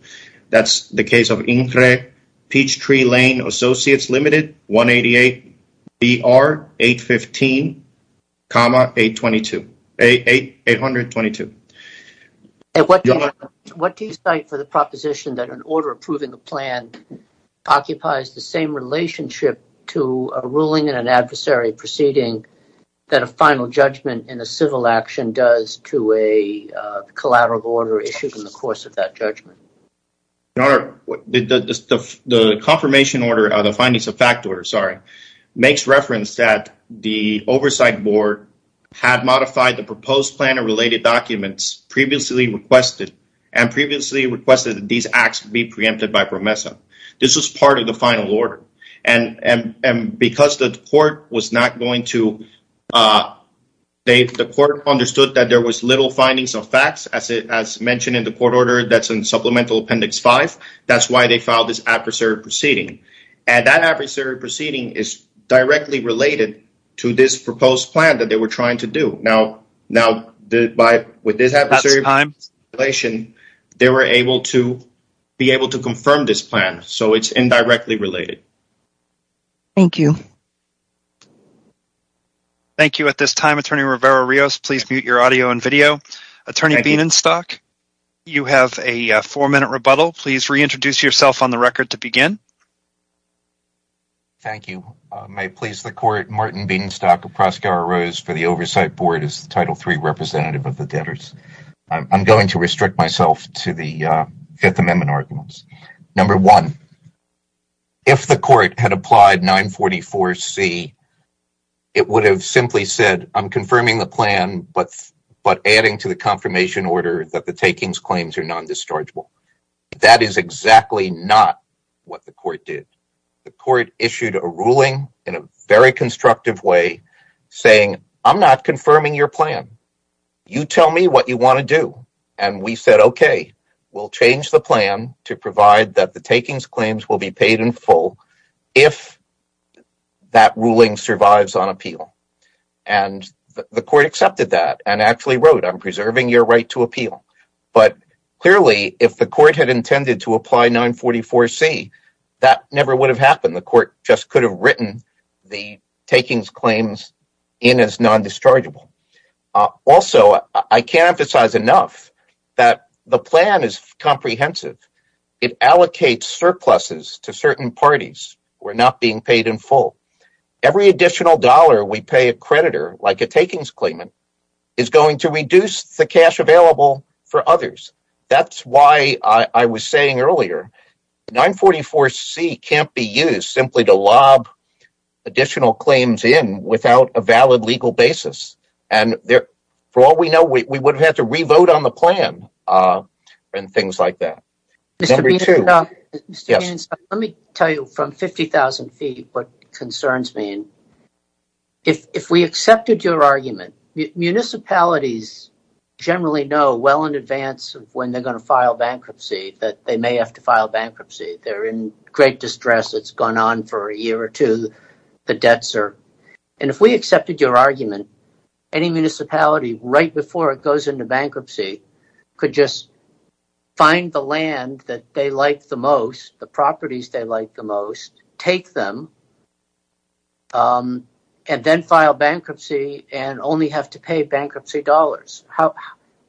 That's the case of Infre Peachtree Lane Associates Limited, 188BR815,822. What do you cite for the proposition that an order approving a plan occupies the same relationship to a ruling and an adversary proceeding that a final judgment in a civil action does to a collateral order issued in the course of that judgment? Your Honor, the confirmation order, the findings of fact order, sorry, makes reference that the oversight board had modified the proposed plan and related documents previously requested, and previously requested that these acts be preempted by PROMESA. This was part of the final order. And because the court was not going to, the court understood that there was little findings of facts, as mentioned in the court order, that's in Supplemental Appendix 5, that's why they filed this adversary proceeding. And that adversary proceeding is directly related to this proposed plan that they were trying to do. Now, with this adversary proceeding, they were able to be able to confirm this plan, so it's indirectly related. Thank you. At this time, Attorney Rivera-Rios, please mute your audio and video. Attorney Bienenstock, you have a four-minute rebuttal. Please reintroduce yourself on the record to begin. Thank you. May it please the court, Martin Bienenstock of Proskauer Rose for the Oversight Board as the Title III representative of the debtors. I'm going to restrict myself to the Fifth Amendment arguments. Number one, if the court had applied 944C, it would have simply said, I'm confirming the plan, but adding to the confirmation order that the takings claims are non-dischargeable. That is exactly not what the court did. The court issued a ruling in a very constructive way, saying, I'm not confirming your plan. You tell me what you want to do. And we said, okay, we'll change the plan to provide that the takings claims will be paid in full if that ruling survives on appeal. And the court accepted that and actually wrote, I'm preserving your right to appeal. But clearly, if the court had intended to apply 944C, that never would have happened. The court just could have written the takings claims in as non-dischargeable. Also, I can't emphasize enough that the plan is comprehensive. It allocates surpluses to certain parties who are not being paid in full. Every additional dollar we pay a creditor, like a takings claimant, is going to reduce the cash available for others. That's why I was saying earlier, 944C can't be used simply to lob additional claims in without a valid legal basis. And for all we know, we would have had to reload on the plan and things like that. Let me tell you from 50,000 feet what concerns me. If we accepted your argument, municipalities generally know well in advance when they're going to file bankruptcy that they may have to file bankruptcy. They're in great distress. It's gone on for a year or two. The debts are... And if we accepted your argument, any municipality right before it goes into bankruptcy could just find the land that they like the most, the properties they like the most, take them, and then file bankruptcy and only have to pay bankruptcy dollars.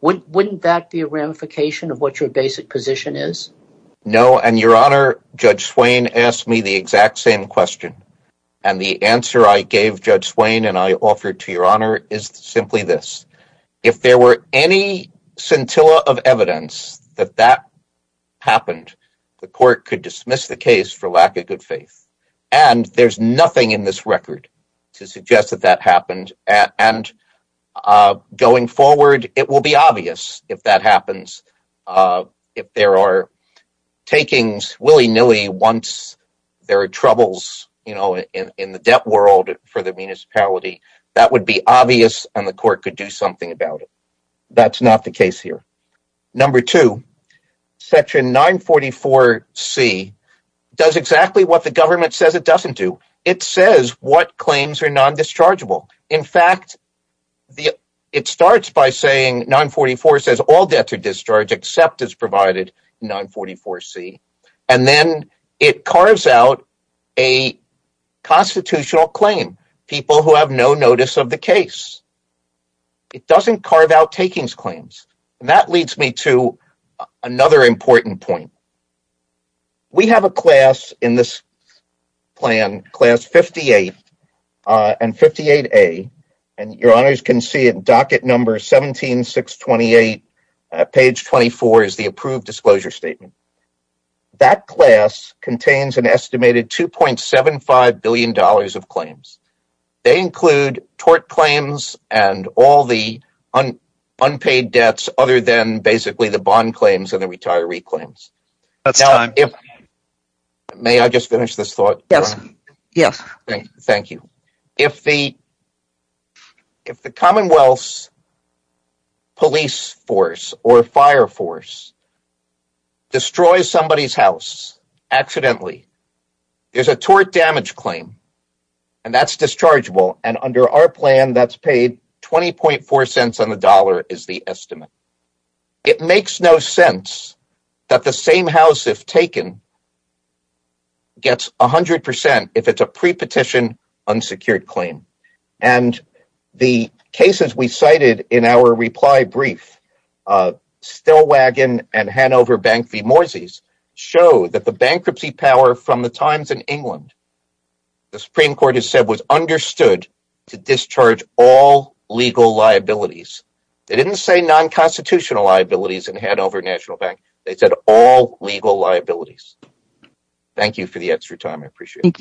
Wouldn't that be a ramification of what your basic position is? No, and Your Honor, Judge Swain asked me the exact same question. And the answer I gave Judge Swain and I offered to Your Honor is simply this. If there were any scintilla of evidence that that happened, the court could dismiss the case for lack of good faith. And there's nothing in this record to suggest that that happened. And going forward, it will be obvious if that happens. If there are takings willy-nilly once there are troubles in the debt world for the municipality, that would be obvious and the court could do something about it. That's not the case here. Number two, Section 944C does exactly what the government says it doesn't do. It says what claims are non-dischargeable. In fact, it starts by saying 944 says all debts are discharged except as provided 944C. And then it carves out a constitutional claim. People who have no notice of the case. It doesn't carve out takings claims. And that leads me to another important point. We have a class in this plan, Class 58 and 58A, and Your Honors can see it in docket number 17628. Page 24 is the approved disclosure statement. That class contains an estimated $2.75 billion of claims. They include tort claims and all the unpaid debts other than basically the bond claims and the retiree claims. May I just finish this thought? Yes. Thank you. If the Commonwealth's police force or fire force destroys somebody's house accidentally, there's a tort damage claim, and that's dischargeable. And under our plan, that's paid $0.204 on the dollar is the estimate. It makes no sense that the same house, if taken, gets 100% if it's a pre-petition unsecured claim. And the cases we cited in our reply brief, Stellwagen and Hanover Bank v. Moises, show that the bankruptcy power from the times in England, the Supreme Court has said, was understood to discharge all legal liabilities. They didn't say non-constitutional liabilities in Hanover National Bank. They said all legal liabilities. Thank you for the extra time. I appreciate it. Thank you.